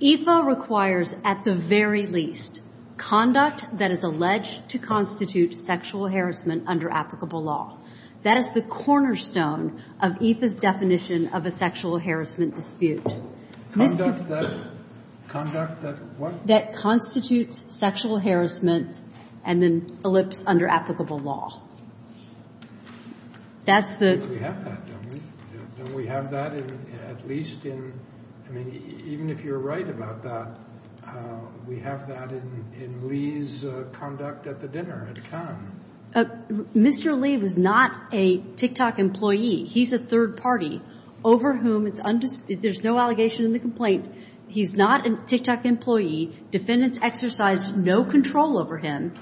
EFA requires, at the very least, conduct that is alleged to constitute sexual harassment under applicable law. That is the cornerstone of EFA's definition of a sexual harassment dispute that constitutes sexual harassment and then elipsed under applicable law. Mr. Lee was not a TikTok employee. He's a third party over whom it's undisputed. There's no allegation in the complaint. He's not a TikTok employee. The defendant's exercise no control over him.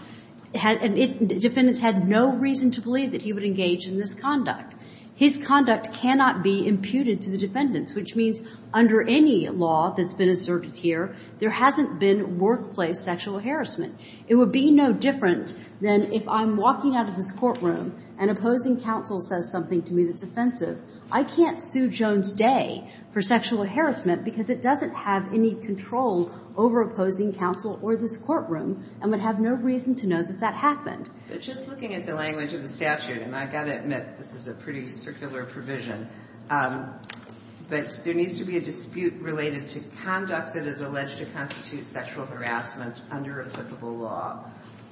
Defendants had no reason to believe that he would engage in this conduct. His conduct cannot be imputed to the defendants, which means under any law that's been asserted here, there hasn't been workplace sexual harassment. It would be no different than if I'm walking out of this courtroom and opposing counsel says something to me that's offensive. I can't sue Jones Day for sexual harassment because it doesn't have any control over opposing counsel or this courtroom and would have no reason to know that that happened. But just looking at the language of the statute, and I've got to admit this is a pretty circular provision, but there needs to be a dispute related to conduct that is alleged to constitute sexual harassment under applicable law.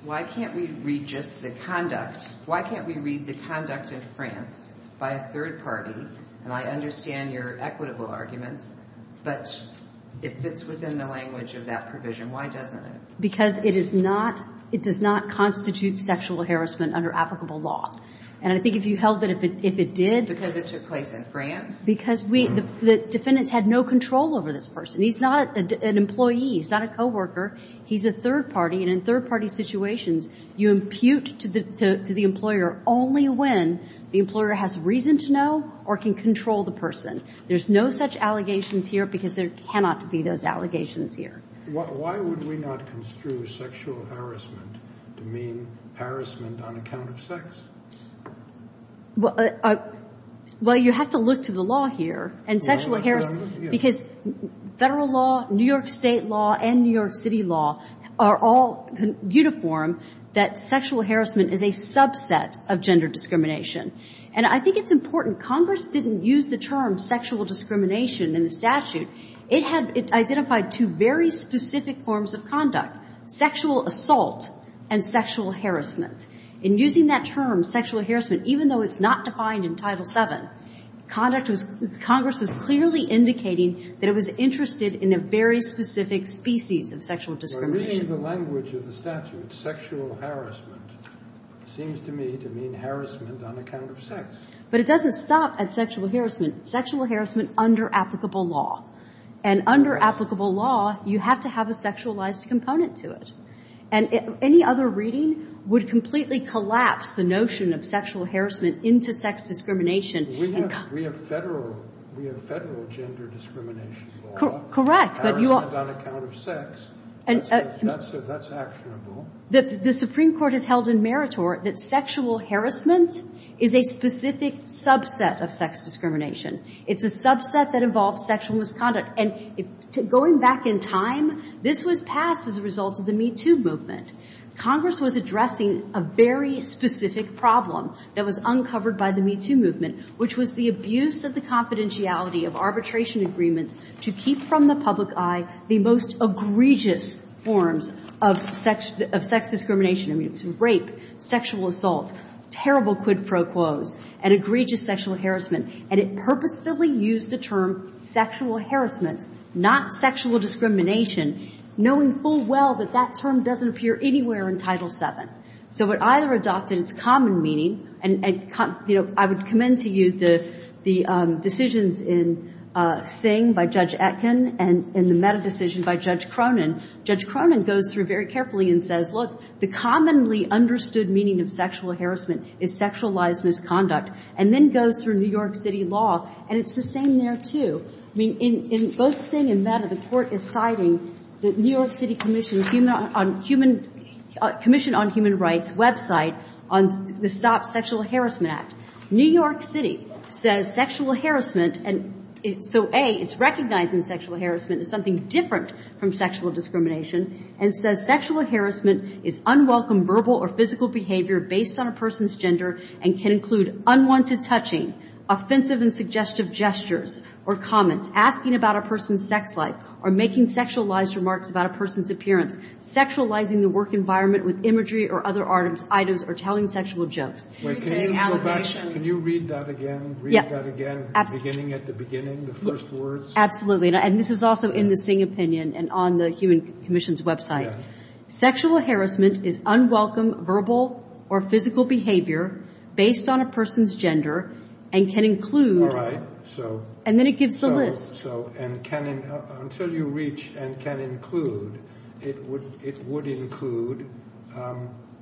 Why can't we read just the conduct? Why can't we read the conduct in France by a third party? And I understand your equitable arguments, but it fits within the language of that provision. Why doesn't it? Because it is not. It does not constitute sexual harassment under applicable law. And I think if you held it, if it did, because it took place in France, because we the defendants had no control over this person. He's not an employee. He's not a coworker. He's a third party. And in third party situations, you impute to the employer only when the employer has reason to know or can control the person. There's no such allegations here because there cannot be those allegations here. Why would we not construe sexual harassment to mean harassment on account of sex? Well, you have to look to the law here and sexual harassment because Federal law, New York State law and New York City law are all uniform that sexual harassment is a subset of gender discrimination. And I think it's important. Congress didn't use the term sexual discrimination in the statute. It had identified two very specific forms of conduct, sexual assault and sexual harassment. In using that term, sexual harassment, even though it's not defined in Title VII, conduct was – Congress was clearly indicating that it was interested in a very specific species of sexual discrimination. But reading the language of the statute, sexual harassment, seems to me to mean harassment on account of sex. But it doesn't stop at sexual harassment. Sexual harassment under applicable law. And under applicable law, you have to have a sexualized component to it. And any other reading would completely collapse the notion of sexual harassment into sex discrimination. We have Federal gender discrimination law. Correct. But you are – That's actionable. The Supreme Court has held in meritor that sexual harassment is a specific subset of sex discrimination. It's a subset that involves sexual misconduct. And going back in time, this was passed as a result of the MeToo movement. Congress was addressing a very specific problem that was uncovered by the MeToo movement, which was the abuse of the confidentiality of arbitration agreements to keep from the public eye the most egregious forms of sex discrimination. I mean, rape, sexual assault, terrible quid pro quos, and egregious sexual harassment. And it purposefully used the term sexual harassment, not sexual discrimination, knowing full well that that term doesn't appear anywhere in Title VII. So it either adopted its common meaning – and, you know, I would commend to you the decisions in Singh by Judge Etkin and the MeToo decision by Judge Cronin. Judge Cronin goes through very carefully and says, look, the commonly understood meaning of sexual harassment is sexualized misconduct, and then goes through New York City law, and it's the same there, too. I mean, in both Singh and MeToo, the Court is citing the New York City Commission on Human Rights' website on the Stop Sexual Harassment Act. New York City says sexual harassment – so, A, it's recognizing sexual harassment as something different from sexual discrimination, and says sexual harassment is unwelcome verbal or physical behavior based on a person's gender and can include unwanted touching, offensive and suggestive gestures or comments, asking about a person's sex life, or making sexualized remarks about a person's appearance, sexualizing the work environment with imagery or other items, or telling sexual jokes. Can you read that again? Read that again, beginning at the beginning, the first words? Absolutely. And this is also in the Singh opinion and on the Human Commission's website. Sexual harassment is unwelcome verbal or physical behavior based on a person's gender and can include – All right, so – And then it gives the list. So, and can – until you reach and can include, it would include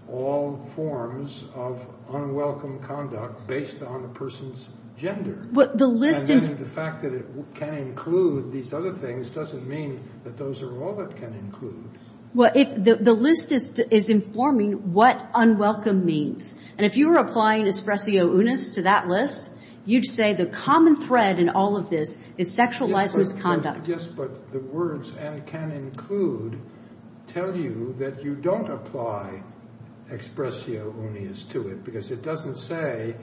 all forms of unwelcome conduct based on a person's gender. The list – And then the fact that it can include these other things doesn't mean that those are all it can include. Well, the list is informing what unwelcome means. And if you were applying expressio unis to that list, you'd say the common thread in all of this is sexualized misconduct. Yes, but the words and can include tell you that you don't apply expressio unis to it because it doesn't say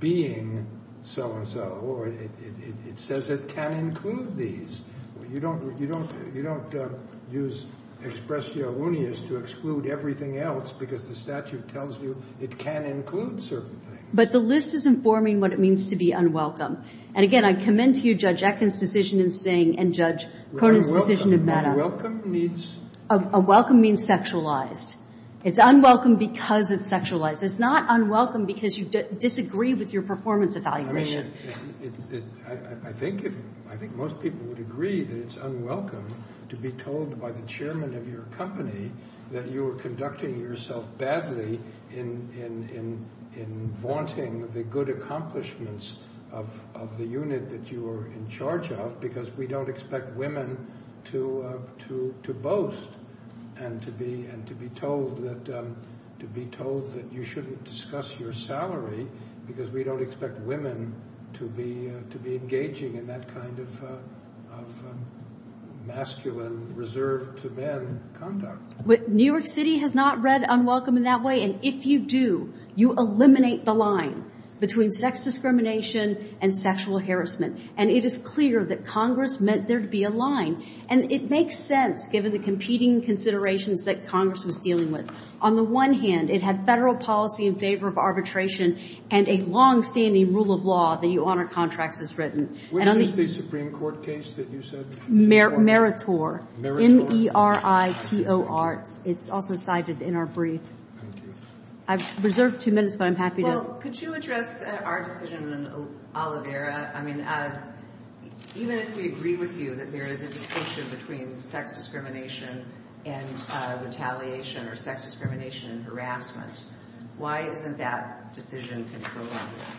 being so-and-so, or it says it can include these. You don't use expressio unis to exclude everything else because the statute tells you it can include certain things. But the list is informing what it means to be unwelcome. And, again, I commend to you Judge Atkins' decision in Singh and Judge Cronin's decision in Maddow. But unwelcome means – Unwelcome means sexualized. It's unwelcome because it's sexualized. It's not unwelcome because you disagree with your performance evaluation. I think most people would agree that it's unwelcome to be told by the chairman of your company that you were conducting yourself badly in vaunting the good accomplishments of the unit that you were in charge of because we don't expect women to be engaging in that kind of masculine, reserved-to-men conduct. New York City has not read unwelcome in that way. And if you do, you eliminate the line between sex discrimination and sexual harassment. And it is clear that Congress meant there to be a line. And it makes sense, given the competing considerations that Congress was dealing with. On the one hand, it had federal policy in favor of arbitration and a longstanding rule of law that you honor contracts as written. Where is the Supreme Court case that you said? Meritor. Meritor. M-E-R-I-T-O-R. It's also cited in our brief. Thank you. I've reserved two minutes, but I'm happy to – Well, could you address our decision in Oliveira? I mean, even if we agree with you that there is a distinction between sex discrimination and retaliation or sex discrimination and harassment, why isn't that decision controlled?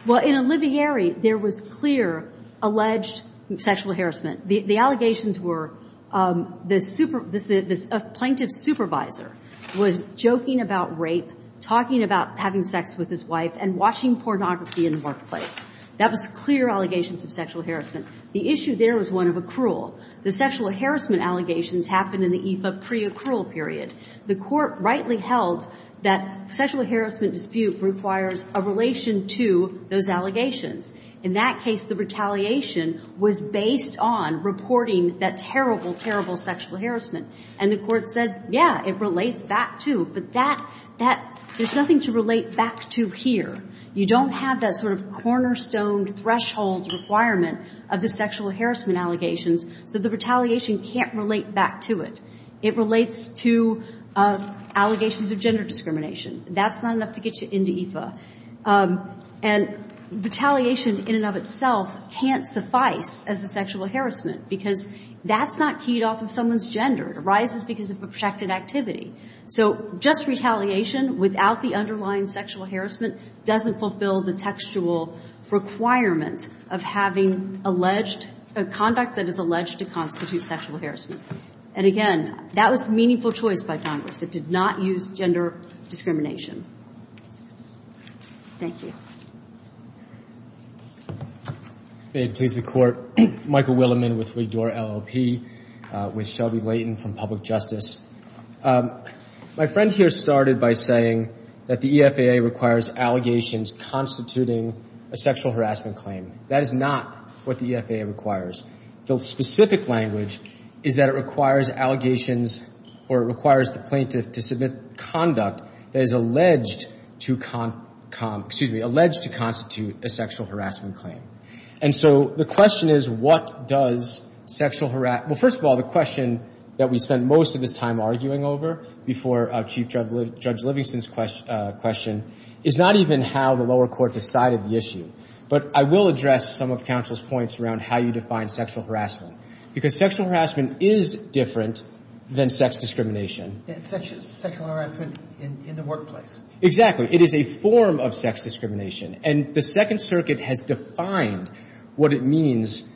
Well, in Oliveira, there was clear alleged sexual harassment. The allegations were this plaintiff's supervisor was joking about rape, talking about having sex with his wife, and watching pornography in the workplace. That was clear allegations of sexual harassment. The issue there was one of accrual. The sexual harassment allegations happened in the EFA pre-accrual period. The Court rightly held that sexual harassment dispute requires a relation to those allegations. In that case, the retaliation was based on reporting that terrible, terrible sexual harassment. And the Court said, yeah, it relates back to. But that – that – there's nothing to relate back to here. You don't have that sort of cornerstone threshold requirement of the sexual harassment allegations. So the retaliation can't relate back to it. It relates to allegations of gender discrimination. That's not enough to get you into EFA. And retaliation in and of itself can't suffice as a sexual harassment because that's not keyed off of someone's gender. It arises because of projected activity. So just retaliation without the underlying sexual harassment doesn't fulfill the textual requirement of having alleged – conduct that is alleged to constitute sexual harassment. And again, that was meaningful choice by Congress. It did not use gender discrimination. Thank you. May it please the Court. I'm Michael Willeman with Wigdor, LLP, with Shelby Layton from Public Justice. My friend here started by saying that the EFAA requires allegations constituting a sexual harassment claim. That is not what the EFAA requires. The specific language is that it requires allegations or it requires the plaintiff to submit conduct that is alleged to – excuse me, alleged to constitute a sexual harassment claim. And so the question is, what does sexual – well, first of all, the question that we spent most of this time arguing over before Chief Judge Livingston's question is not even how the lower court decided the issue. But I will address some of counsel's points around how you define sexual harassment because sexual harassment is different than sex discrimination. Sexual harassment in the workplace. Exactly. It is a form of sex discrimination. And the Second Circuit has defined what it means –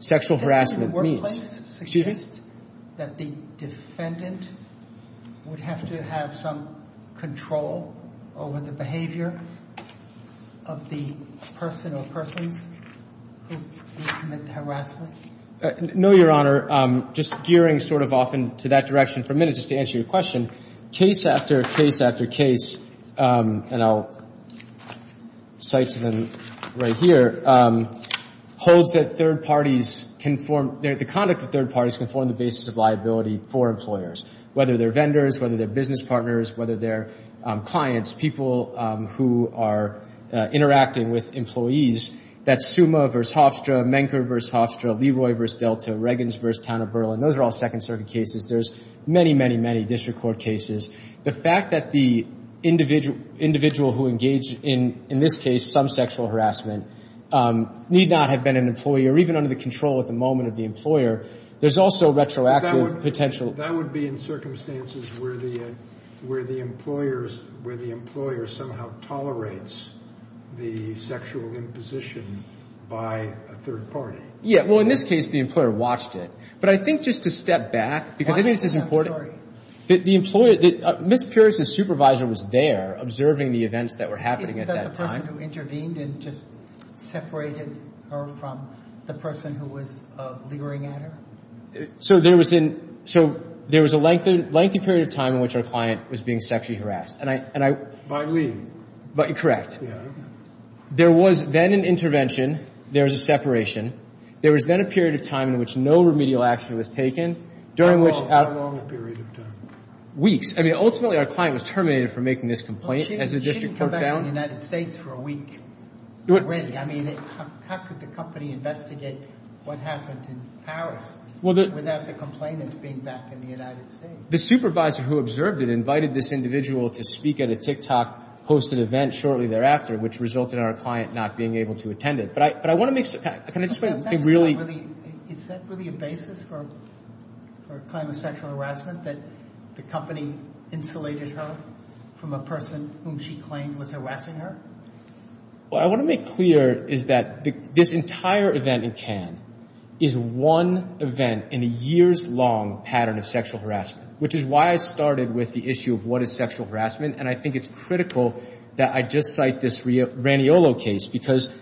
sexual harassment means. Does the workplace suggest that the defendant would have to have some control over the behavior of the person or persons who would commit the harassment? No, Your Honor. Just gearing sort of off into that direction for a minute just to answer your question, case after case after case – and I'll cite to them right here – holds that third parties can form – the conduct of third parties can form the basis of liability for employers, whether they're vendors, whether they're business partners, whether they're clients, people who are interacting with employees. That's Summa v. Hofstra, Menker v. Hofstra, Leroy v. Delta, Reagans v. Town of Berlin. Those are all Second Circuit cases. There's many, many, many district court cases. The fact that the individual who engaged in, in this case, some sexual harassment, need not have been an employee or even under the control at the moment of the employer, there's also retroactive potential. That would be in circumstances where the employer somehow tolerates the sexual imposition by a third party. Yeah. Well, in this case, the employer watched it. But I think just to step back, because I think this is important – The employer – Ms. Pierce's supervisor was there observing the events that were happening at that time. Is that the person who intervened and just separated her from the person who was leering at her? So there was a lengthy period of time in which our client was being sexually harassed, and I – By Lee. Correct. Yeah. There was then an intervention. There was a separation. There was then a period of time in which no remedial action was taken, during which – How long? How long a period of time? Weeks. I mean, ultimately, our client was terminated for making this complaint. Well, she didn't come back to the United States for a week already. I mean, how could the company investigate what happened in Paris without the complainant being back in the United States? The supervisor who observed it invited this individual to speak at a TikTok-hosted event shortly thereafter, which resulted in our client not being able to attend it. But I want to make – Is that really a basis for a claim of sexual harassment, that the company insulated her from a person whom she claimed was harassing her? What I want to make clear is that this entire event in Cannes is one event in a years-long pattern of sexual harassment, which is why I started with the issue of what is sexual harassment, and I think it's critical that I just cite this because,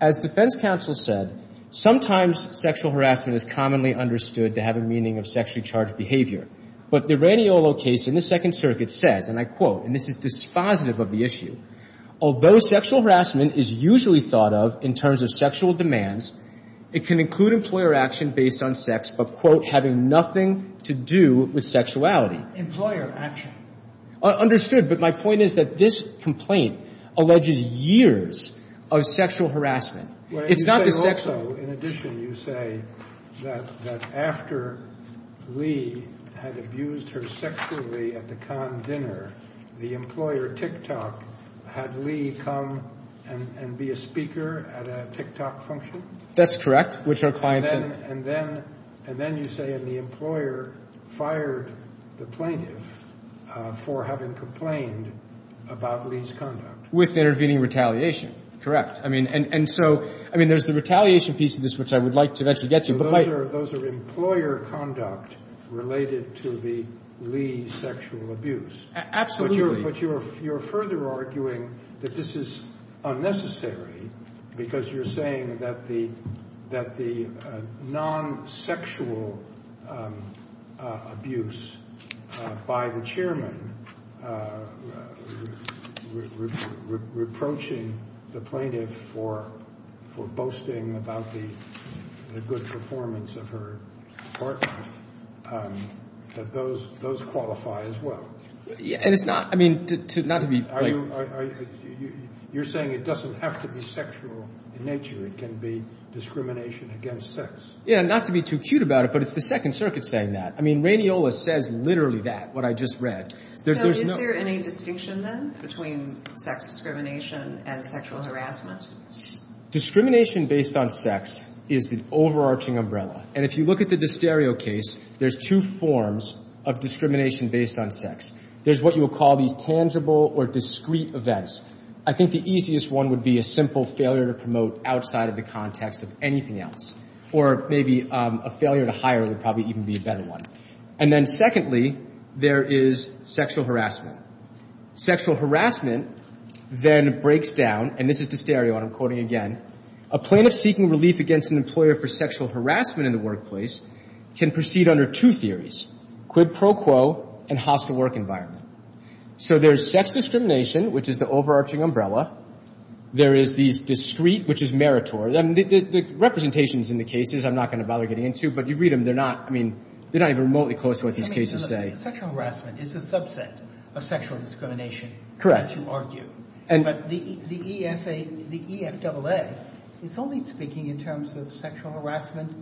as defense counsel said, sometimes sexual harassment is commonly understood to have a meaning of sexually charged behavior. But the Raniolo case in the Second Circuit says, and I quote, and this is dispositive of the issue, Employer action. Understood. But my point is that this complaint alleges years of sexual harassment. It's not the sexual – But you say also, in addition, you say that after Lee had abused her sexually at the Cannes dinner, the employer, TikTok, had Lee come and be a speaker at a TikTok function? That's correct, which our client then – For having complained about Lee's conduct. With intervening retaliation. And so, I mean, there's the retaliation piece of this, which I would like to eventually get to. Those are employer conduct related to the Lee sexual abuse. Absolutely. But you're further arguing that this is unnecessary because you're saying that the non-sexual abuse by the chairman, reproaching the plaintiff for boasting about the good performance of her partner, that those qualify as well. And it's not – I mean, not to be – You're saying it doesn't have to be sexual in nature. It can be discrimination against sex. Yeah, not to be too cute about it, but it's the Second Circuit saying that. I mean, Rainiola says literally that, what I just read. So, is there any distinction, then, between sex discrimination and sexual harassment? Discrimination based on sex is the overarching umbrella. And if you look at the disterio case, there's two forms of discrimination based on sex. There's what you would call these tangible or discrete events. I think the easiest one would be a simple failure to promote outside of the context of anything else. Or maybe a failure to hire would probably even be a better one. And then, secondly, there is sexual harassment. Sexual harassment then breaks down, and this is disterio, and I'm quoting again. A plaintiff seeking relief against an employer for sexual harassment in the workplace can proceed under two theories, quid pro quo and hostile work environment. So there's sex discrimination, which is the overarching umbrella. There is these discrete, which is meritorious. The representations in the cases I'm not going to bother getting into, but you read them. They're not, I mean, they're not even remotely close to what these cases say. Sexual harassment is a subset of sexual discrimination. Correct. As you argue. But the EFA, the EFAA is only speaking in terms of sexual harassment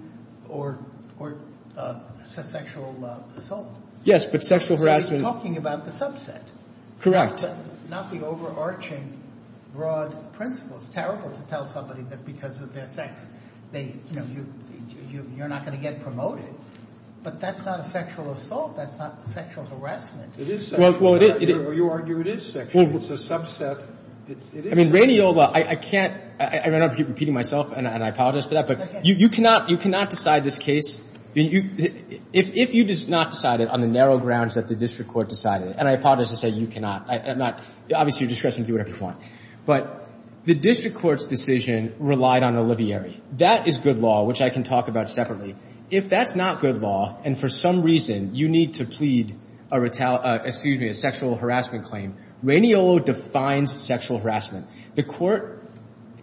or sexual assault. Yes, but sexual harassment. Talking about the subset. Not the overarching broad principles. It's terrible to tell somebody that because of their sex they, you know, you're not going to get promoted. But that's not a sexual assault. That's not sexual harassment. It is sexual harassment. Well, you argue it is sexual. It's a subset. It is sexual harassment. I mean, Raniola, I can't, I don't want to keep repeating myself, and I apologize for that. Okay. But you cannot decide this case. If you did not decide it on the narrow grounds that the district court decided it, and I apologize to say you cannot. I'm not, obviously you're discretionary, do whatever you want. But the district court's decision relied on Olivieri. That is good law, which I can talk about separately. If that's not good law and for some reason you need to plead a retaliation, excuse me, a sexual harassment claim, Raniola defines sexual harassment. The court,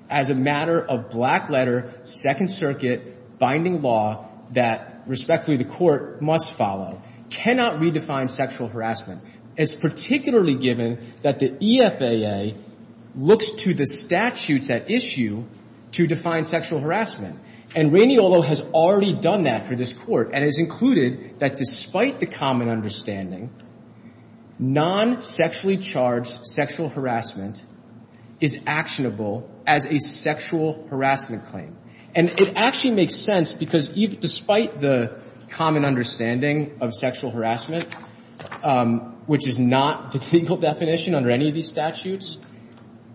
as a matter of black letter, Second Circuit binding law that respectfully the court must follow, cannot redefine sexual harassment. It's particularly given that the EFAA looks to the statutes at issue to define sexual harassment. And Raniola has already done that for this court and has included that despite the common understanding, non-sexually charged sexual harassment is actionable as a sexual harassment claim. And it actually makes sense because despite the common understanding of sexual harassment, which is not the legal definition under any of these statutes,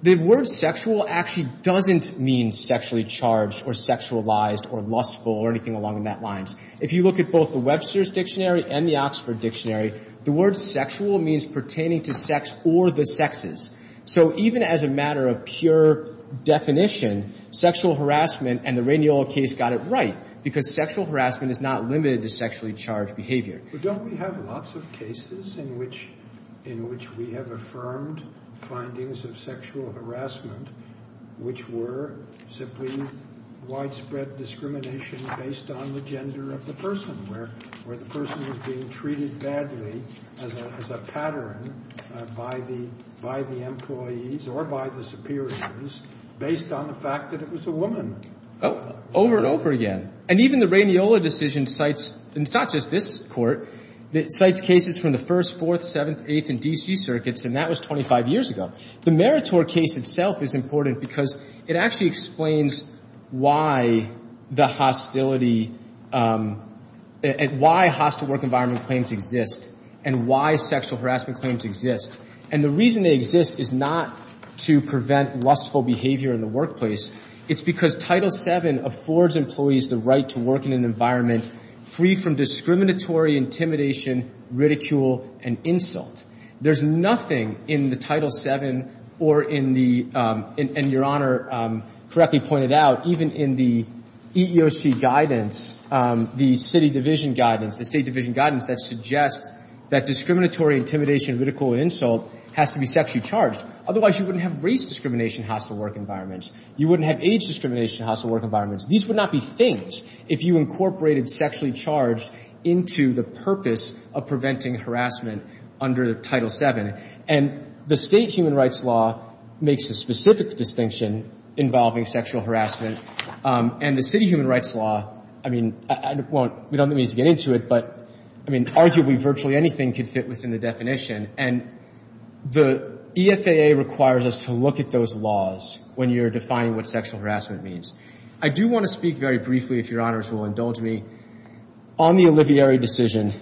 the word sexual actually doesn't mean sexually charged or sexualized or lustful or anything along those lines. If you look at both the Webster's Dictionary and the Oxford Dictionary, the word sexual means pertaining to sex or the sexes. So even as a matter of pure definition, sexual harassment and the Raniola case got it right because sexual harassment is not limited to sexually charged behavior. But don't we have lots of cases in which we have affirmed findings of sexual harassment, which were simply widespread discrimination based on the gender of the person, where the person was being treated badly as a pattern by the employees or by the superiors based on the fact that it was a woman. Over and over again. And even the Raniola decision cites, and it's not just this court, cites cases from the First, Fourth, Seventh, Eighth, and D.C. circuits, and that was 25 years ago. The Meritor case itself is important because it actually explains why the hostility, why hostile work environment claims exist and why sexual harassment claims exist. And the reason they exist is not to prevent lustful behavior in the workplace. It's because Title VII affords employees the right to work in an environment free from discriminatory intimidation, ridicule, and insult. There's nothing in the Title VII or in the, and Your Honor correctly pointed out, even in the EEOC guidance, the city division guidance, the state division guidance, that suggests that discriminatory intimidation, ridicule, and insult has to be sexually charged. Otherwise, you wouldn't have race discrimination hostile work environments. You wouldn't have age discrimination hostile work environments. These would not be things if you incorporated sexually charged into the purpose of preventing harassment under Title VII. And the state human rights law makes a specific distinction involving sexual harassment. And the city human rights law, I mean, I won't, we don't need to get into it, but, I mean, arguably virtually anything could fit within the definition. And the EFAA requires us to look at those laws when you're defining what sexual harassment means. I do want to speak very briefly, if Your Honors will indulge me, on the Olivieri decision,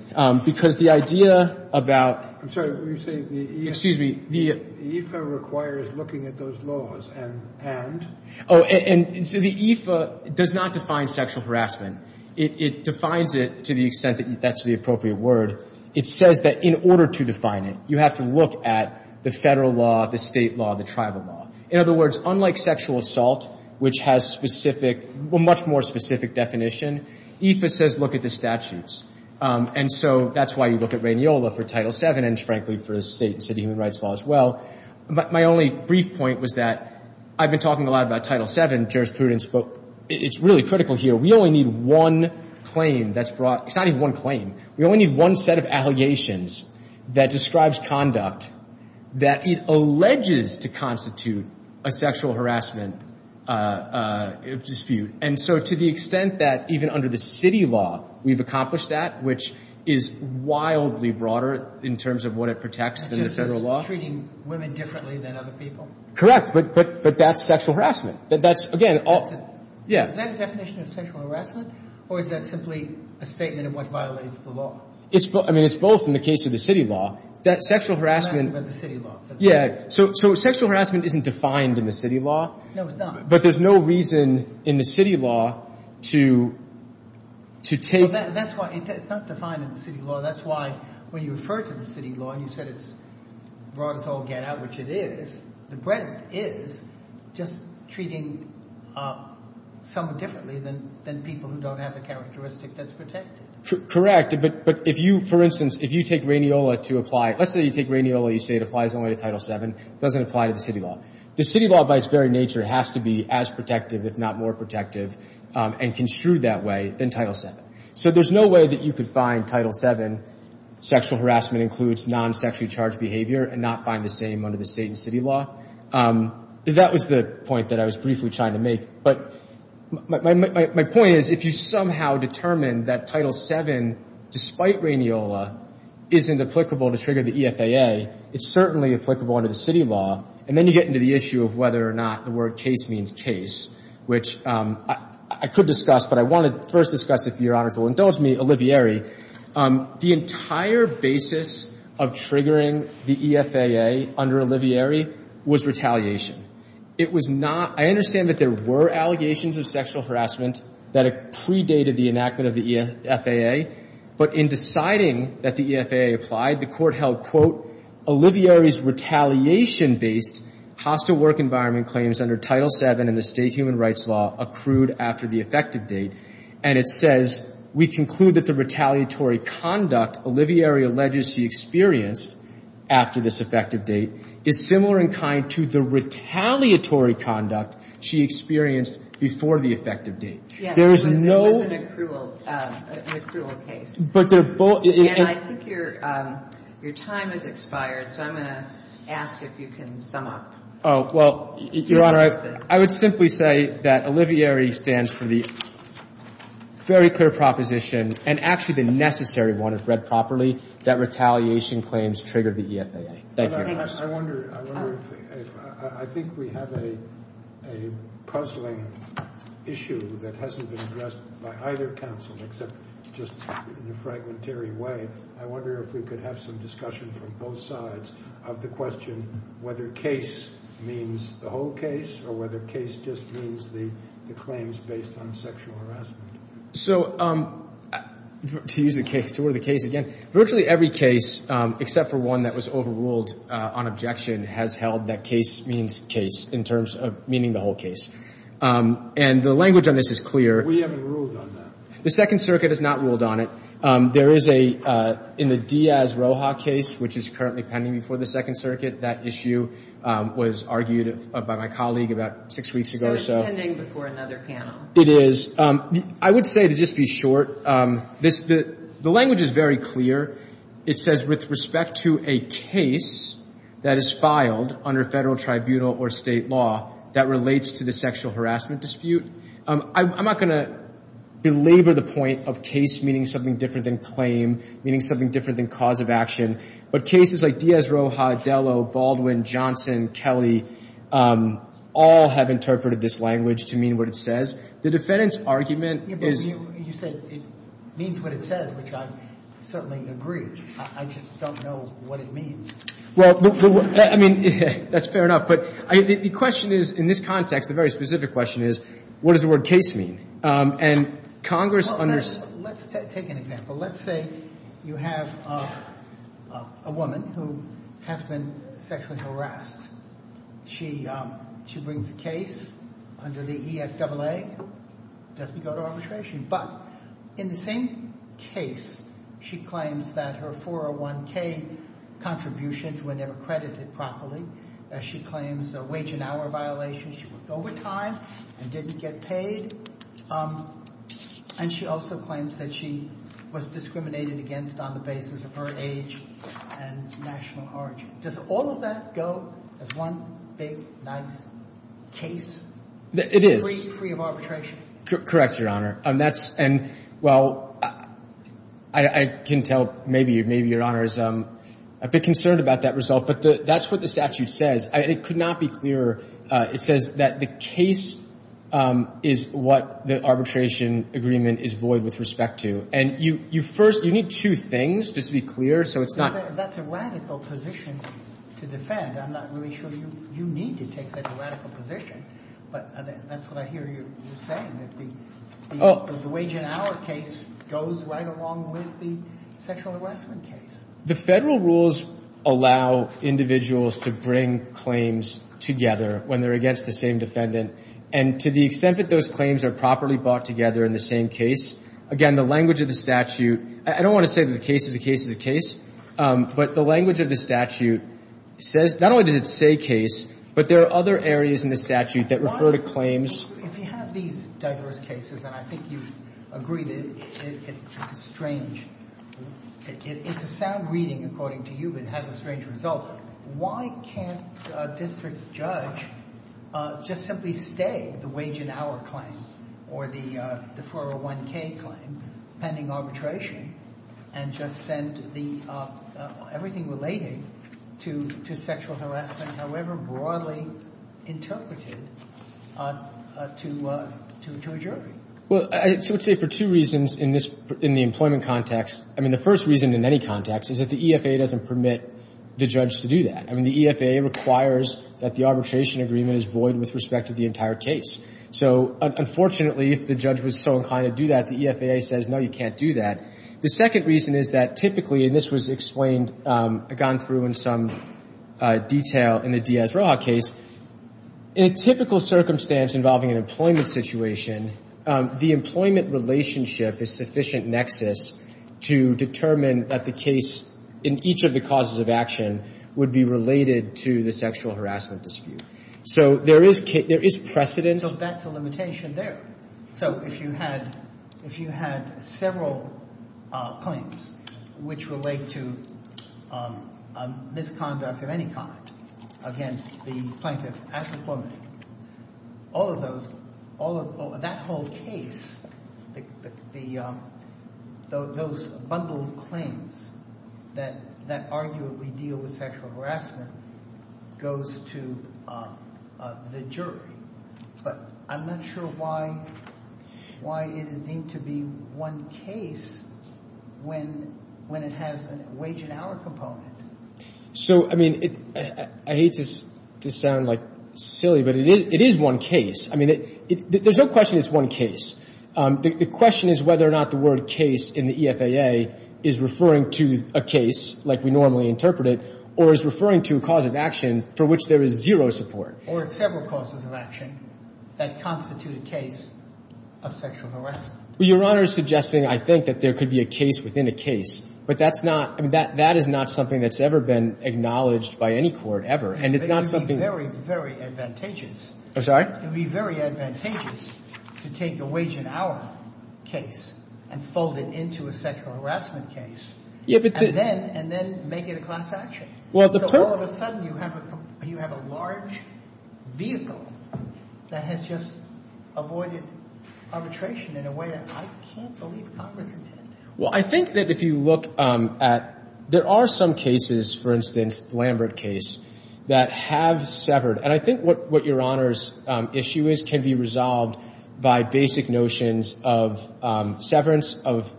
because the idea about... I'm sorry, were you saying the EFA... Excuse me... The EFA requires looking at those laws and... Oh, and so the EFA does not define sexual harassment. It defines it to the extent that that's the appropriate word. It says that in order to define it, you have to look at the federal law, the state law, the tribal law. In other words, unlike sexual assault, which has specific, well, much more specific definition, EFA says look at the statutes. And so that's why you look at Rainiola for Title VII and, frankly, for the state and city human rights law as well. But my only brief point was that I've been talking a lot about Title VII jurisprudence, but it's really critical here. We only need one claim that's brought...... that describes conduct, that it alleges to constitute a sexual harassment dispute. And so to the extent that even under the city law we've accomplished that, which is wildly broader in terms of what it protects than the federal law...... such as treating women differently than other people. Correct, but that's sexual harassment. That's, again... Is that a definition of sexual harassment, or is that simply a statement of what violates the law? I mean, it's both in the case of the city law. That sexual harassment... I'm talking about the city law. Yeah, so sexual harassment isn't defined in the city law. No, it's not. But there's no reason in the city law to take... Well, that's why it's not defined in the city law. That's why when you refer to the city law and you said it's broad as all get out, which it is...... the breadth is just treating someone differently than people who don't have the characteristic that's protected. Correct, but if you... For instance, if you take Rainiola to apply... Let's say you take Rainiola. You say it applies only to Title VII. It doesn't apply to the city law. The city law, by its very nature, has to be as protective, if not more protective and construed that way than Title VII. So there's no way that you could find Title VII sexual harassment includes non-sexually charged behavior...... and not find the same under the state and city law. That was the point that I was briefly trying to make. But my point is if you somehow determine that Title VII, despite Rainiola, isn't applicable to trigger the EFAA...... it's certainly applicable under the city law. And then you get into the issue of whether or not the word case means case, which I could discuss. But I want to first discuss, if Your Honors will indulge me, Olivieri. The entire basis of triggering the EFAA under Olivieri was retaliation. It was not... I understand that there were allegations of sexual harassment that predated the enactment of the EFAA. But in deciding that the EFAA applied, the Court held, quote,...... Olivieri's retaliation-based hostile work environment claims under Title VII in the state human rights law accrued after the effective date........ and it says, we conclude that the retaliatory conduct Olivieri alleges she experienced after this effective date...... is similar in kind to the retaliatory conduct she experienced before the effective date. There is no... Yes, it was an accrual case. But they're both... And I think your time has expired, so I'm going to ask if you can sum up. Oh, well, Your Honor, I would simply say that Olivieri stands for the very clear proposition, and actually the necessary one if read properly, that retaliation claims triggered the EFAA. Thank you. I wonder if... I think we have a puzzling issue that hasn't been addressed by either counsel except just in a fragmentary way. I wonder if we could have some discussion from both sides of the question whether case means the whole case or whether case just means the claims based on sexual harassment. So to use the case... to order the case again, virtually every case except for one that was overruled on objection has held that case means case in terms of meaning the whole case. And the language on this is clear. We haven't ruled on that. The Second Circuit has not ruled on it. There is a... in the Diaz-Roja case, which is currently pending before the Second Circuit, that issue was argued by my colleague about six weeks ago, so... So it's pending before another panel. It is. I would say, to just be short, this... the language is very clear. It says, with respect to a case that is filed under federal, tribunal, or state law that relates to the sexual harassment dispute... I'm not going to belabor the point of case meaning something different than claim, meaning something different than cause of action. But cases like Diaz-Roja, Adelo, Baldwin, Johnson, Kelly all have interpreted this language to mean what it says. The defendant's argument is... You say it means what it says, which I certainly agree. I just don't know what it means. Well, I mean, that's fair enough. But the question is, in this context, the very specific question is, what does the word case mean? And Congress... Well, let's take an example. Let's say you have a woman who has been sexually harassed. She brings a case under the EFAA. Doesn't go to arbitration. But, in the same case, she claims that her 401K contributions were never credited properly. She claims a wage and hour violation. She worked overtime and didn't get paid. And she also claims that she was discriminated against on the basis of her age and national origin. Does all of that go as one big, nice case? It is. Free of arbitration? Correct, Your Honor. And that's... And, well, I can tell maybe Your Honor is a bit concerned about that result. But that's what the statute says. It could not be clearer. It says that the case is what the arbitration agreement is void with respect to. And you first... You need two things, just to be clear, so it's not... That's a radical position to defend. I'm not really sure you need to take that radical position. But that's what I hear you saying, that the wage and hour case goes right along with the sexual harassment case. The Federal rules allow individuals to bring claims together when they're against the same defendant. And to the extent that those claims are properly brought together in the same case, again, the language of the statute... I don't want to say that the case is a case is a case, but the language of the statute says... Not only does it say case, but there are other areas in the statute that refer to claims... If you have these diverse cases, and I think you agree that it's a strange... It's a sound reading, according to you, but it has a strange result. But why can't a district judge just simply stay the wage and hour claim or the 401k claim pending arbitration and just send the — everything relating to sexual harassment, however broadly interpreted, to a jury? Well, I would say for two reasons in the employment context. I mean, the first reason in any context is that the EFAA doesn't permit the judge to do that. I mean, the EFAA requires that the arbitration agreement is void with respect to the entire case. So, unfortunately, if the judge was so inclined to do that, the EFAA says, no, you can't do that. The second reason is that typically, and this was explained, gone through in some detail in the Diaz-Roja case. In a typical circumstance involving an employment situation, the employment relationship is sufficient nexus to determine that the case in each of the causes of action would be related to the sexual harassment dispute. So there is precedent. So that's a limitation there. So if you had several claims which relate to misconduct of any kind against the plaintiff as employment, all of those — that whole case, those bundled claims that arguably deal with sexual harassment, goes to the jury. But I'm not sure why it is deemed to be one case when it has a wage and hour component. So, I mean, I hate to sound like silly, but it is one case. I mean, there's no question it's one case. The question is whether or not the word case in the EFAA is referring to a case, like we normally interpret it, or is referring to a cause of action for which there is zero support. Or it's several causes of action that constitute a case of sexual harassment. Well, Your Honor is suggesting, I think, that there could be a case within a case. But that's not — I mean, that is not something that's ever been acknowledged by any court, ever. And it's not something — It would be very, very advantageous. I'm sorry? It would be very advantageous to take a wage and hour case and fold it into a sexual harassment case. And then make it a class action. So all of a sudden you have a large vehicle that has just avoided arbitration in a way that I can't believe Congress intended. Well, I think that if you look at — there are some cases, for instance, the Lambert case, that have severed. And I think what Your Honor's issue is can be resolved by basic notions of severance, of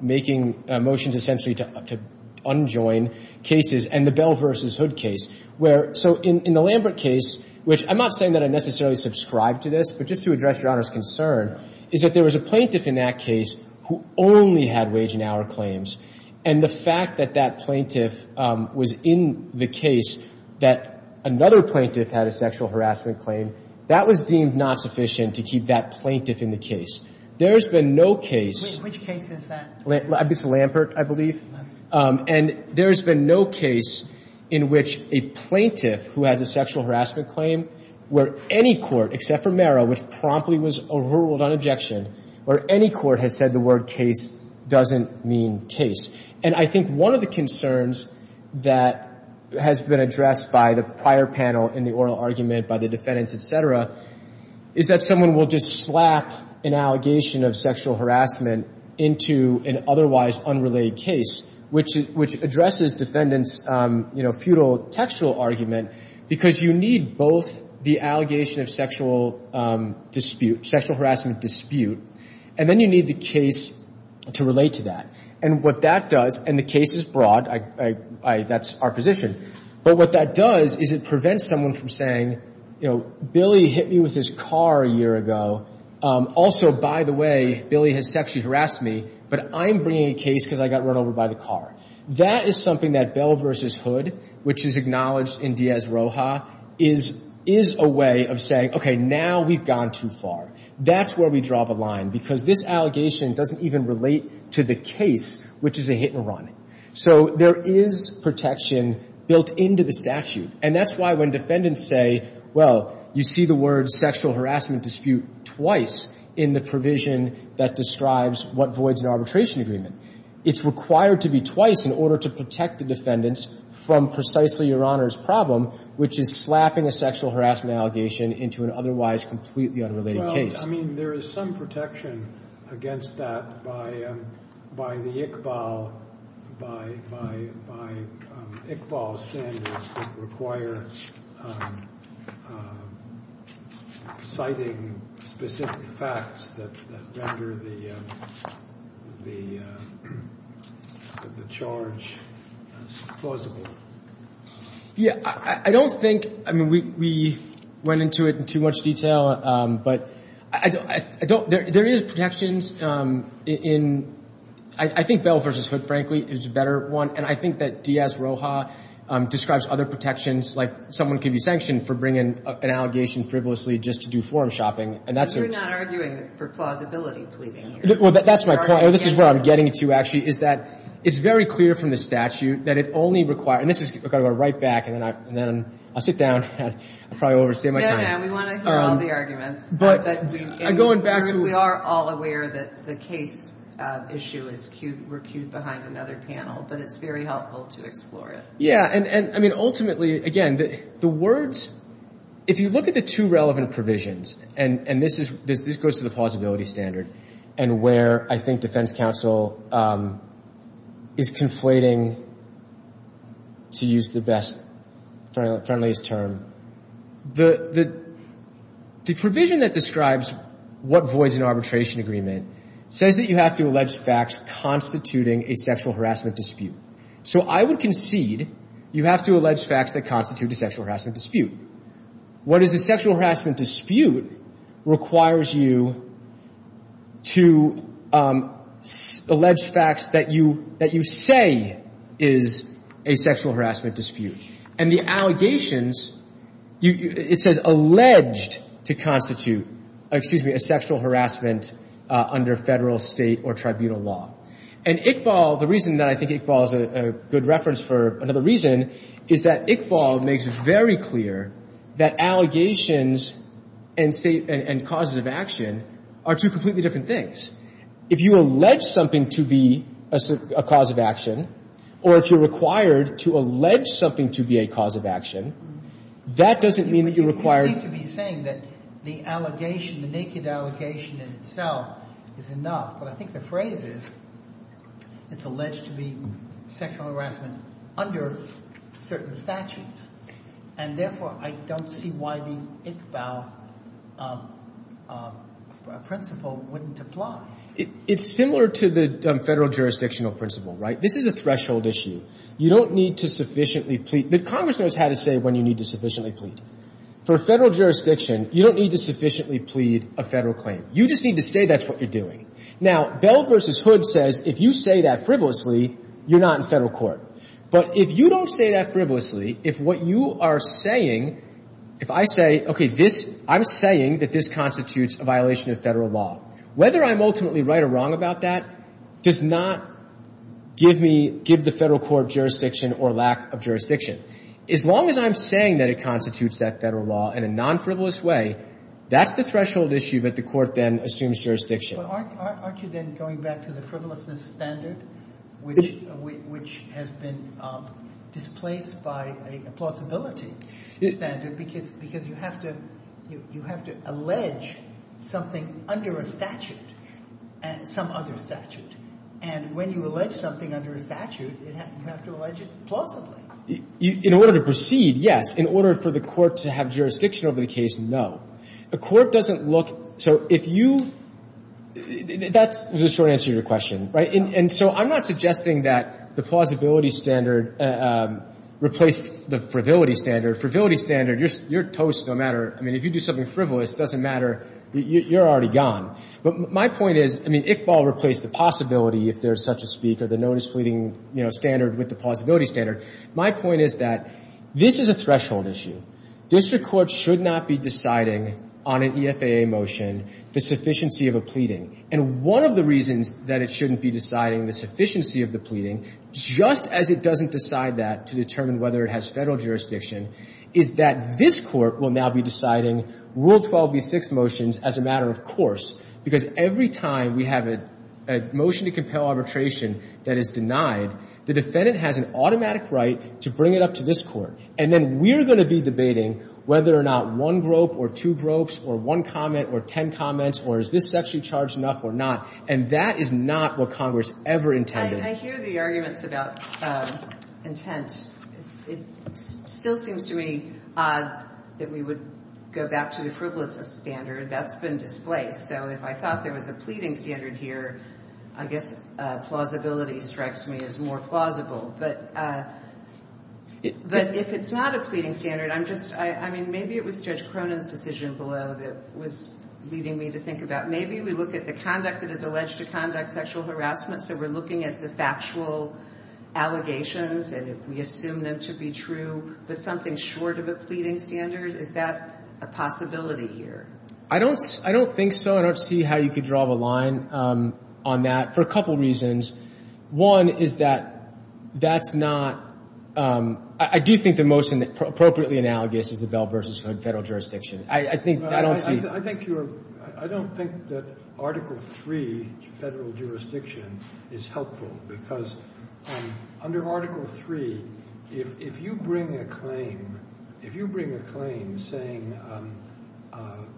making motions essentially to unjoin cases, and the Bell v. Hood case, where — so in the Lambert case, which I'm not saying that I necessarily subscribe to this, but just to address Your Honor's concern, is that there was a plaintiff in that case who only had wage and hour claims. And the fact that that plaintiff was in the case that another plaintiff had a sexual harassment claim, that was deemed not sufficient to keep that plaintiff in the case. There has been no case — Which case is that? It's Lambert, I believe. And there has been no case in which a plaintiff who has a sexual harassment claim, where any court, except for Merrill, which promptly was overruled on objection, where any court has said the word case doesn't mean case. And I think one of the concerns that has been addressed by the prior panel in the oral argument, by the defendants, et cetera, is that someone will just slap an allegation of sexual harassment into an otherwise unrelated case, which addresses defendants' futile textual argument, because you need both the allegation of sexual dispute, sexual harassment dispute, and then you need the case to relate to that. And what that does — and the case is broad. That's our position. But what that does is it prevents someone from saying, you know, Billy hit me with his car a year ago. Also, by the way, Billy has sexually harassed me, but I'm bringing a case because I got run over by the car. That is something that Bell v. Hood, which is acknowledged in Diaz-Roja, is a way of saying, okay, now we've gone too far. That's where we draw the line, because this allegation doesn't even relate to the case, which is a hit-and-run. So there is protection built into the statute. And that's why when defendants say, well, you see the word sexual harassment dispute twice in the provision that describes what voids an arbitration agreement. It's required to be twice in order to protect the defendants from precisely Your Honor's problem, which is slapping a sexual harassment allegation into an otherwise completely unrelated case. I mean, there is some protection against that by the Iqbal standards that require citing specific facts that render the charge plausible. Yeah, I don't think – I mean, we went into it in too much detail, but I don't – there is protections in – I think Bell v. Hood, frankly, is a better one. And I think that Diaz-Roja describes other protections, like someone can be sanctioned for bringing an allegation frivolously just to do forum shopping. And that's a – You're not arguing for plausibility pleading here. Well, that's my point. No, this is where I'm getting to, actually, is that it's very clear from the statute that it only requires – and this is – I've got to go right back, and then I'll sit down. I probably overstayed my time. Yeah, yeah. We want to hear all the arguments. But I'm going back to – We are all aware that the case issue is – we're queued behind another panel. But it's very helpful to explore it. Yeah. And, I mean, ultimately, again, the words – if you look at the two relevant provisions, and this goes to the plausibility standard and where I think defense counsel is conflating, to use the best, friendliest term, the provision that describes what voids an arbitration agreement says that you have to allege facts constituting a sexual harassment dispute. So I would concede you have to allege facts that constitute a sexual harassment dispute. What is a sexual harassment dispute requires you to allege facts that you say is a sexual harassment dispute. And the allegations – it says alleged to constitute – excuse me – a sexual harassment under federal, state, or tribunal law. And Iqbal, the reason that I think Iqbal is a good reference for another reason, is that Iqbal makes it very clear that allegations and causes of action are two completely different things. If you allege something to be a cause of action, or if you're required to allege something to be a cause of action, that doesn't mean that you're required – You seem to be saying that the allegation, the naked allegation in itself, is enough. But I think the phrase is, it's alleged to be sexual harassment under certain statutes. And therefore, I don't see why the Iqbal principle wouldn't apply. It's similar to the federal jurisdictional principle, right? This is a threshold issue. You don't need to sufficiently plead. The Congress knows how to say when you need to sufficiently plead. For a federal jurisdiction, you don't need to sufficiently plead a federal claim. You just need to say that's what you're doing. Now, Bell v. Hood says if you say that frivolously, you're not in federal court. But if you don't say that frivolously, if what you are saying – if I say, okay, this – I'm saying that this constitutes a violation of federal law. Whether I'm ultimately right or wrong about that does not give me – give the federal court jurisdiction or lack of jurisdiction. As long as I'm saying that it constitutes that federal law in a non-frivolous way, that's the threshold issue that the court then assumes jurisdiction. But aren't you then going back to the frivolousness standard, which has been displaced by a plausibility standard, because you have to – you have to allege something under a statute, some other statute. And when you allege something under a statute, you have to allege it plausibly. In order to proceed, yes. In order for the court to have jurisdiction over the case, no. The court doesn't look – so if you – that's the short answer to your question. Right? And so I'm not suggesting that the plausibility standard replaced the frivolity standard. Frivolity standard, you're toast no matter – I mean, if you do something frivolous, it doesn't matter. You're already gone. But my point is – I mean, Iqbal replaced the possibility if there's such a speak or the notice pleading standard with the plausibility standard. My point is that this is a threshold issue. District courts should not be deciding on an EFAA motion the sufficiency of a pleading. And one of the reasons that it shouldn't be deciding the sufficiency of the pleading, just as it doesn't decide that to determine whether it has Federal jurisdiction, is that this Court will now be deciding Rule 12b6 motions as a matter of course, because every time we have a motion to compel arbitration that is denied, the defendant has an automatic right to bring it up to this Court. And then we're going to be debating whether or not one grope or two gropes or one comment or ten comments or is this sexually charged enough or not. And that is not what Congress ever intended. I hear the arguments about intent. It still seems to me odd that we would go back to the frivolous standard. That's been displaced. So if I thought there was a pleading standard here, I guess plausibility strikes me as more plausible. But if it's not a pleading standard, I'm just, I mean, maybe it was Judge Cronin's decision below that was leading me to think about, maybe we look at the conduct that is alleged to conduct sexual harassment, so we're looking at the factual allegations and we assume them to be true. But something short of a pleading standard, is that a possibility here? I don't think so. I don't see how you could draw the line on that for a couple reasons. One is that that's not, I do think the most appropriately analogous is the Bell v. Hood federal jurisdiction. I think, I don't see. I think you're, I don't think that Article III federal jurisdiction is helpful because under Article III, if you bring a claim, if you bring a claim saying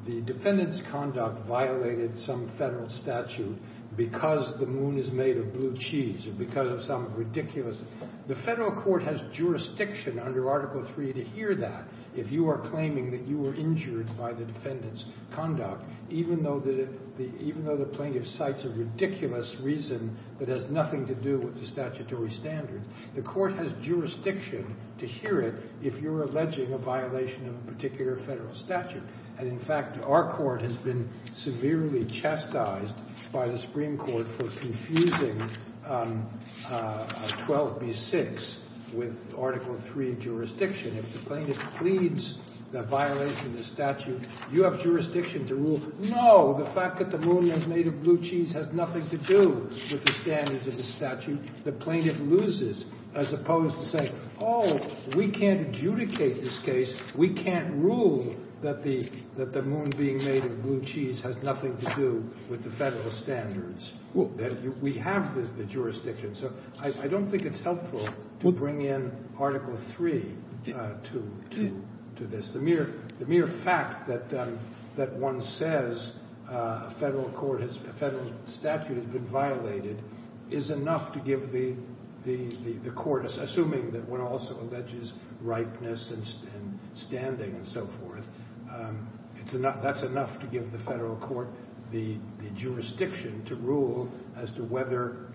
the defendant's conduct violated some federal statute because the moon is made of blue cheese or because of some ridiculous, the federal court has jurisdiction under Article III to hear that. If you are claiming that you were injured by the defendant's conduct, even though the plaintiff cites a ridiculous reason that has nothing to do with the statutory standard, the court has jurisdiction to hear it if you're alleging a violation of a particular federal statute. And in fact, our court has been severely chastised by the Supreme Court for confusing 12b-6 with Article III jurisdiction. If the plaintiff pleads the violation of the statute, you have jurisdiction to rule, no, the fact that the moon is made of blue cheese has nothing to do with the standards of the statute. The plaintiff loses as opposed to saying, oh, we can't adjudicate this case. We can't rule that the moon being made of blue cheese has nothing to do with the federal standards. We have the jurisdiction. So I don't think it's helpful to bring in Article III to this. The mere fact that one says a federal statute has been violated is enough to give the court, assuming that one also alleges ripeness and standing and so forth, that's enough to give the federal court the jurisdiction to rule as to whether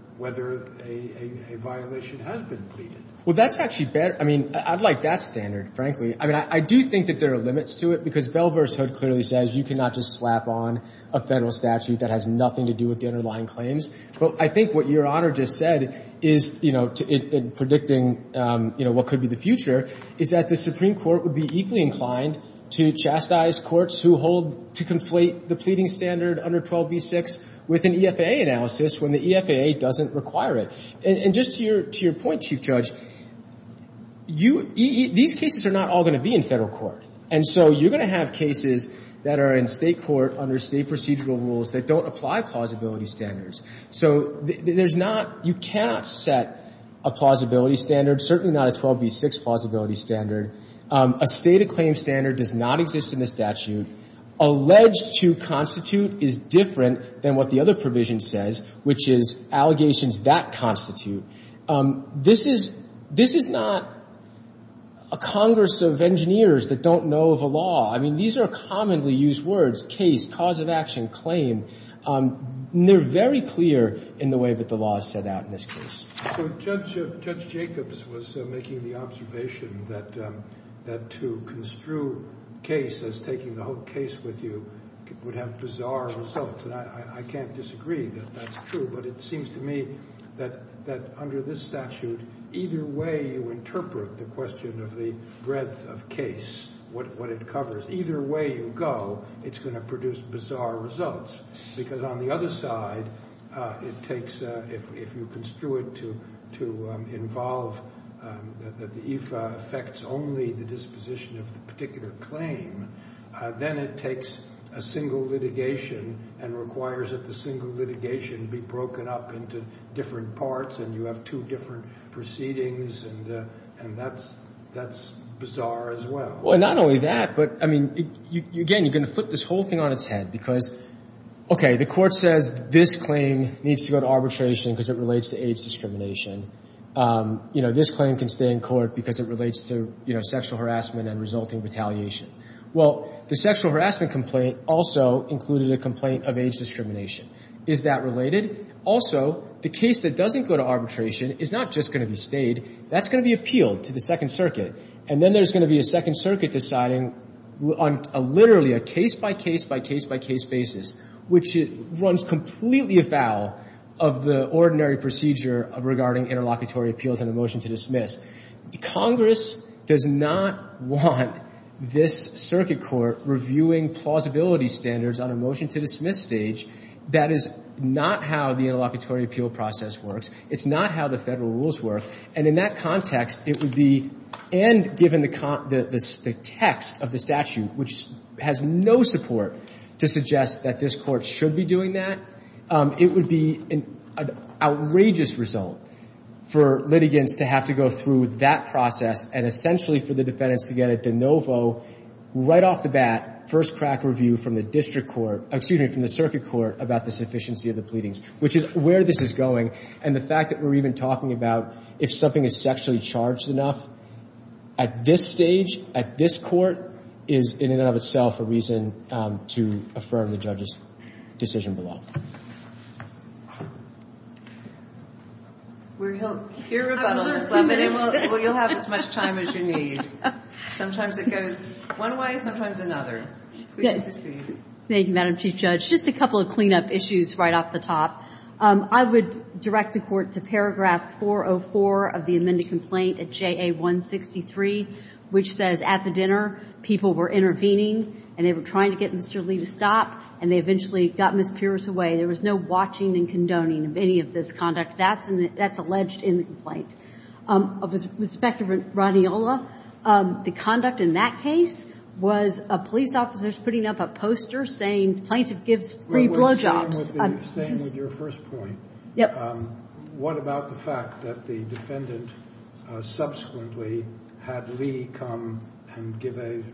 a violation has been pleaded. Well, that's actually better. I mean, I'd like that standard, frankly. I mean, I do think that there are limits to it because Bell v. Hood clearly says you cannot just slap on a federal statute that has nothing to do with the underlying claims. But I think what Your Honor just said is, you know, predicting, you know, what could be the future, is that the Supreme Court would be equally inclined to chastise courts who hold to conflate the pleading standard under 12b-6 with an EFAA analysis when the EFAA doesn't require it. And just to your point, Chief Judge, you – these cases are not all going to be in federal court. And so you're going to have cases that are in State court under State procedural rules that don't apply plausibility standards. So there's not – you cannot set a plausibility standard, certainly not a 12b-6 plausibility standard. A state of claim standard does not exist in the statute. Alleged to constitute is different than what the other provision says, which is allegations that constitute. This is – this is not a Congress of engineers that don't know of a law. I mean, these are commonly used words, case, cause of action, claim. And they're very clear in the way that the law is set out in this case. So Judge – Judge Jacobs was making the observation that to construe case as taking the whole case with you would have bizarre results. And I can't disagree that that's true. But it seems to me that under this statute, either way you interpret the question of the breadth of case, what it covers, either way you go, it's going to produce bizarre results. Because on the other side, it takes – if you construe it to involve that the IFA affects only the disposition of the particular claim, then it takes a single litigation and requires that the single litigation be broken up into different parts and you have two different proceedings and that's – that's bizarre as well. Well, not only that, but I mean, again, you're going to flip this whole thing on its head because, okay, the court says this claim needs to go to arbitration because it relates to age discrimination. You know, this claim can stay in court because it relates to, you know, sexual harassment and resulting retaliation. Well, the sexual harassment complaint also included a complaint of age discrimination. Is that related? Also, the case that doesn't go to arbitration is not just going to be stayed. That's going to be appealed to the Second Circuit. And then there's going to be a Second Circuit deciding on literally a case-by-case-by-case-by-case basis, which runs completely afoul of the ordinary procedure regarding interlocutory appeals and a motion to dismiss. Congress does not want this circuit court reviewing plausibility standards on a motion to dismiss stage. That is not how the interlocutory appeal process works. It's not how the Federal rules work. And in that context, it would be – and given the – the text of the statute, which has no support to suggest that this Court should be doing that, it would be an outrageous result for litigants to have to go through that process and essentially for the defendants to get a de novo, right off the bat, first-crack review from the district court – excuse me, from the circuit court about the sufficiency of the pleadings, which is where this is going. And the fact that we're even talking about if something is sexually charged enough, at this stage, at this Court, is in and of itself a reason to affirm the judge's decision below. We'll hear rebuttals, but you'll have as much time as you need. Sometimes it goes one way, sometimes another. Please proceed. Thank you, Madam Chief Judge. Just a couple of cleanup issues right off the top. I would direct the Court to paragraph 404 of the amended complaint at JA163, which says, at the dinner, people were intervening and they were trying to get Mr. Lee to stop and they eventually got Ms. Pierce away. There was no watching and condoning of any of this conduct. That's alleged in the complaint. With respect to Ronnie Ola, the conduct in that case was police officers putting up a poster saying, Plaintiff gives free blowjobs. Well, what you're saying is your first point. Yep. What about the fact that the defendant subsequently had Lee come and give a –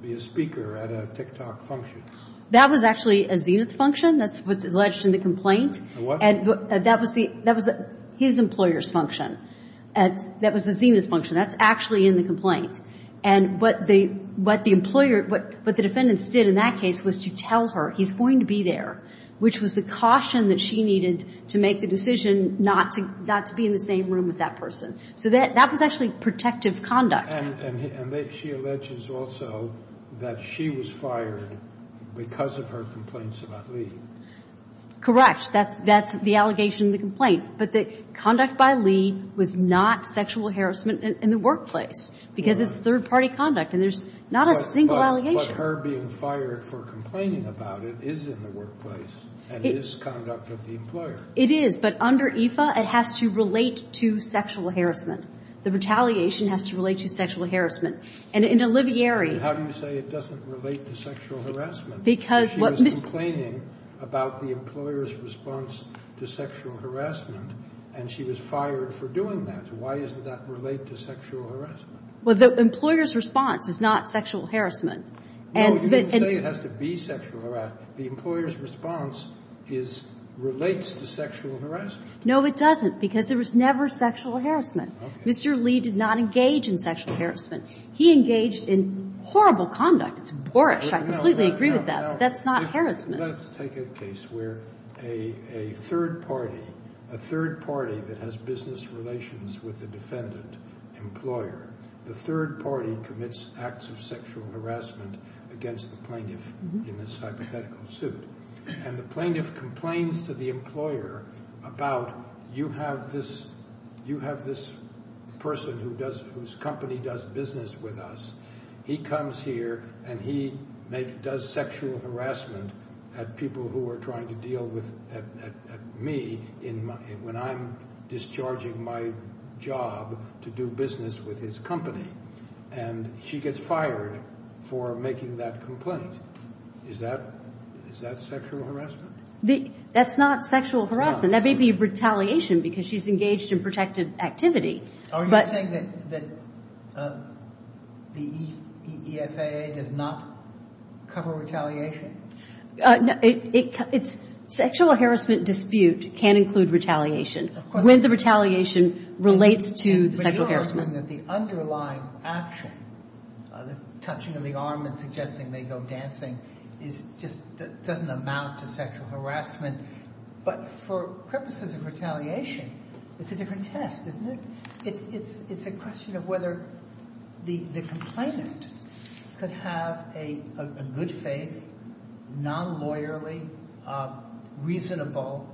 be a speaker at a TikTok function? That was actually a Zenith function. That's what's alleged in the complaint. That was the – that was his employer's function. That was the Zenith function. That's actually in the complaint. And what the – what the employer – what the defendants did in that case was to tell her, he's going to be there, which was the caution that she needed to make the decision not to – not to be in the same room with that person. So that was actually protective conduct. And she alleges also that she was fired because of her complaints about Lee. Correct. That's – that's the allegation in the complaint. But the conduct by Lee was not sexual harassment in the workplace, because it's third-party conduct, and there's not a single allegation. But her being fired for complaining about it is in the workplace and is conduct of the employer. It is. But under EFA, it has to relate to sexual harassment. The retaliation has to relate to sexual harassment. And in Olivieri – But how do you say it doesn't relate to sexual harassment? Because what Ms. – She was complaining about the employer's response to sexual harassment, and she was fired for doing that. Why doesn't that relate to sexual harassment? Well, the employer's response is not sexual harassment. No, you didn't say it has to be sexual harassment. The employer's response is – relates to sexual harassment. No, it doesn't, because there was never sexual harassment. Mr. Lee did not engage in sexual harassment. He engaged in horrible conduct. It's boorish. I completely agree with that. That's not harassment. Let's take a case where a third party, a third party that has business relations with the defendant, employer, the third party commits acts of sexual harassment against the plaintiff in this hypothetical suit. And the plaintiff complains to the employer about, you have this person whose company does business with us. He comes here and he does sexual harassment at people who are trying to deal with me when I'm discharging my job to do business with his company. And she gets fired for making that complaint. Is that sexual harassment? That's not sexual harassment. That may be retaliation because she's engaged in protective activity. Are you saying that the EFAA does not cover retaliation? Sexual harassment dispute can include retaliation when the retaliation relates to sexual harassment. The underlying action, the touching of the arm and suggesting they go dancing, doesn't amount to sexual harassment. But for purposes of retaliation, it's a different test, isn't it? It's a question of whether the complainant could have a good-faced, non-lawyerly, reasonable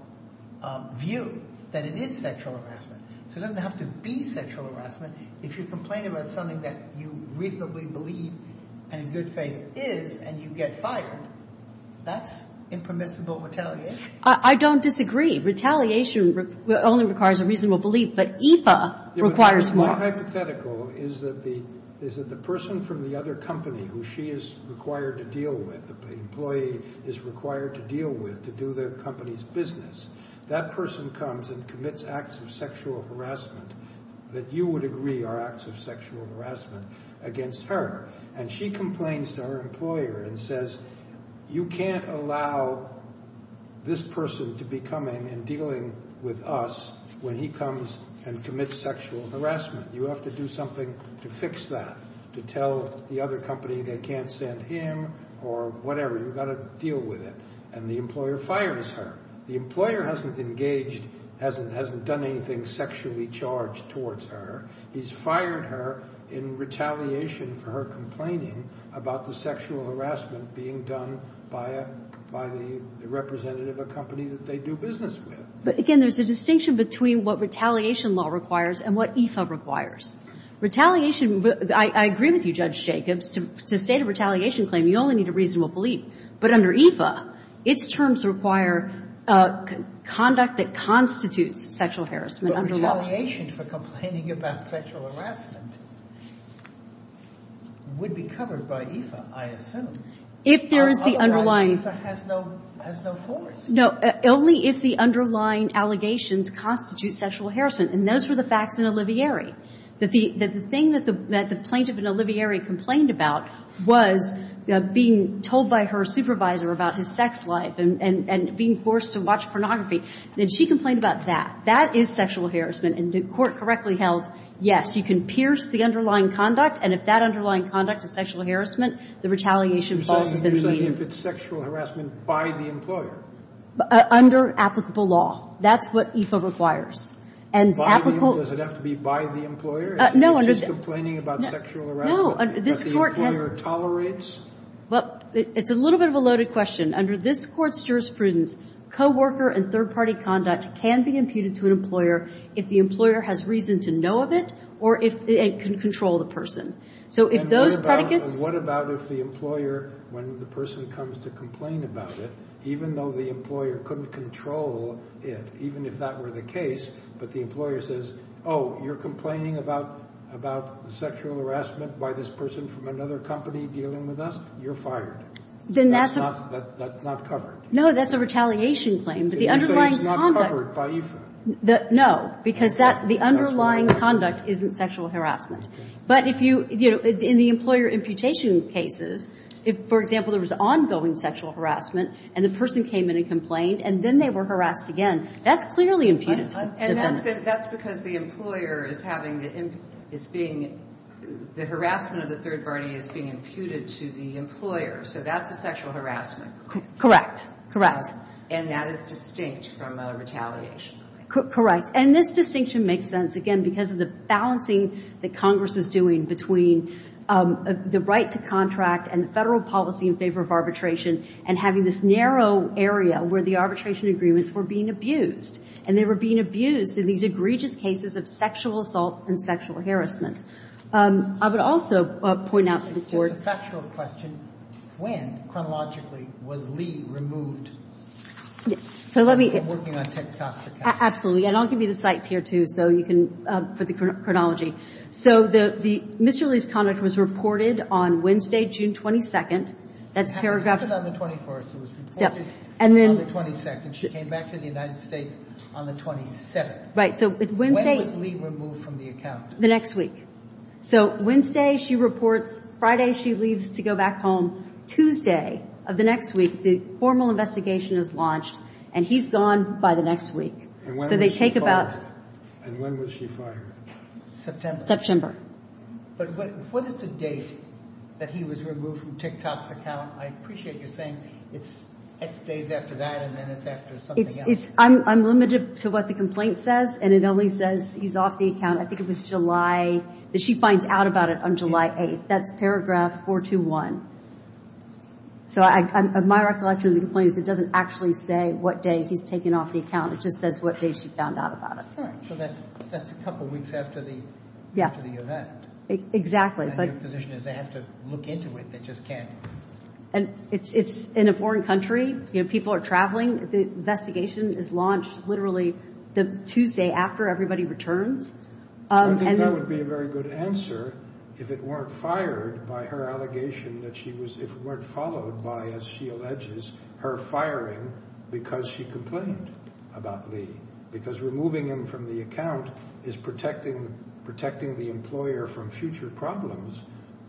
view that it is sexual harassment. So it doesn't have to be sexual harassment. If you complain about something that you reasonably believe and in good faith is and you get fired, that's impermissible retaliation. I don't disagree. Retaliation only requires a reasonable belief. But EFAA requires more. What's more hypothetical is that the person from the other company who she is required to deal with, the employee is required to deal with to do the company's business, that person comes and commits acts of sexual harassment that you would agree are acts of sexual harassment against her. And she complains to her employer and says, you can't allow this person to be coming and dealing with us when he comes and commits sexual harassment. You have to do something to fix that, to tell the other company they can't send him or whatever. You've got to deal with it. And the employer fires her. The employer hasn't engaged, hasn't done anything sexually charged towards her. He's fired her in retaliation for her complaining about the sexual harassment being done by the representative of a company that they do business with. But, again, there's a distinction between what retaliation law requires and what EFAA requires. Retaliation, I agree with you, Judge Jacobs. To state a retaliation claim, you only need a reasonable belief. But under EFAA, its terms require conduct that constitutes sexual harassment under law. But retaliation for complaining about sexual harassment would be covered by EFAA, I assume. Otherwise, EFAA has no force. No. Only if the underlying allegations constitute sexual harassment. And those were the facts in Olivieri, that the thing that the plaintiff in Olivieri complained about was being told by her supervisor about his sex life and being forced to watch pornography. And she complained about that. That is sexual harassment. And the Court correctly held, yes, you can pierce the underlying conduct. And if that underlying conduct is sexual harassment, the retaliation clause has been made. You're saying if it's sexual harassment by the employer? Under applicable law. That's what EFAA requires. And applicable law. Does it have to be by the employer? No. If she's complaining about sexual harassment? No. But the employer tolerates? Well, it's a little bit of a loaded question. Under this Court's jurisprudence, co-worker and third-party conduct can be imputed to an employer if the employer has reason to know of it or if it can control the So if those predicates. And what about if the employer, when the person comes to complain about it, even though the employer couldn't control it, even if that were the case, but the employer says, oh, you're complaining about sexual harassment by this person from another company dealing with us, you're fired. Then that's a. That's not covered. No, that's a retaliation claim. But the underlying conduct. So you say it's not covered by EFAA? No. Because the underlying conduct isn't sexual harassment. But if you, you know, in the employer imputation cases, if, for example, there was ongoing sexual harassment and the person came in and complained and then they were harassed again, that's clearly imputed. And that's because the employer is having the, is being, the harassment of the third party is being imputed to the employer. So that's a sexual harassment. Correct. Correct. And that is distinct from a retaliation. Correct. And this distinction makes sense, again, because of the balancing that Congress is doing between the right to contract and the federal policy in favor of arbitration and having this narrow area where the arbitration agreements were being abused. And they were being abused in these egregious cases of sexual assault and sexual harassment. I would also point out to the Court. It's just a factual question. When, chronologically, was Lee removed? So let me. I'm working on tectoxicants. Absolutely. And I'll give you the sites here, too, so you can, for the chronology. So the, Mr. Lee's conduct was reported on Wednesday, June 22nd. That's paragraphs. It happened on the 21st. It was reported on the 22nd. And she came back to the United States on the 27th. So it's Wednesday. When was Lee removed from the account? The next week. So Wednesday, she reports. Friday, she leaves to go back home. Tuesday of the next week, the formal investigation is launched. And he's gone by the next week. And when was she fired? So they take about. And when was she fired? September. September. But what is the date that he was removed from tectox account? I appreciate you saying it's days after that, and then it's after something else. I'm limited to what the complaint says, and it only says he's off the account. I think it was July. She finds out about it on July 8th. That's paragraph 421. So my recollection of the complaint is it doesn't actually say what day he's taken off the account. It just says what day she found out about it. All right. So that's a couple weeks after the event. Exactly. Your position is they have to look into it. They just can't. It's in a foreign country. People are traveling. The investigation is launched literally the Tuesday after everybody returns. I think that would be a very good answer if it weren't fired by her allegation that she was, if it weren't followed by, as she alleges, her firing because she complained about Lee, because removing him from the account is protecting the employer from future problems.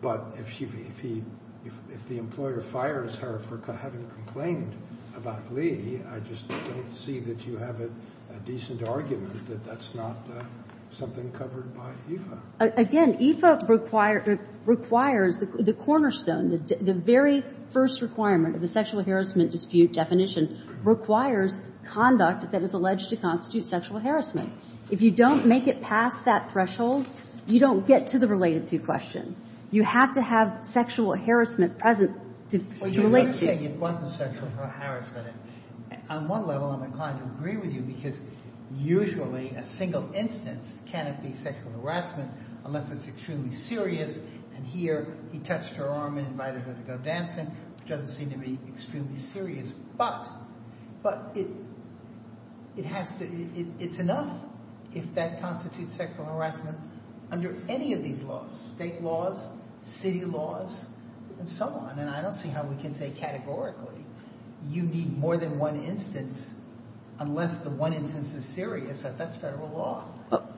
But if the employer fires her for having complained about Lee, I just don't see that you have a decent argument that that's not something covered by EFA. Again, EFA requires the cornerstone, the very first requirement of the sexual harassment dispute definition, requires conduct that is alleged to constitute sexual harassment. If you don't make it past that threshold, you don't get to the related to question. You have to have sexual harassment present to relate to. Well, you're saying it wasn't sexual harassment. On one level, I'm inclined to agree with you because usually a single instance cannot be sexual harassment unless it's extremely serious, and here he touched her arm and invited her to go dancing, which doesn't seem to be extremely serious. But it has to, it's enough if that constitutes sexual harassment under any of these laws, state laws, city laws, and so on, and I don't see how we can say categorically you need more than one instance unless the one instance is serious, that that's federal law.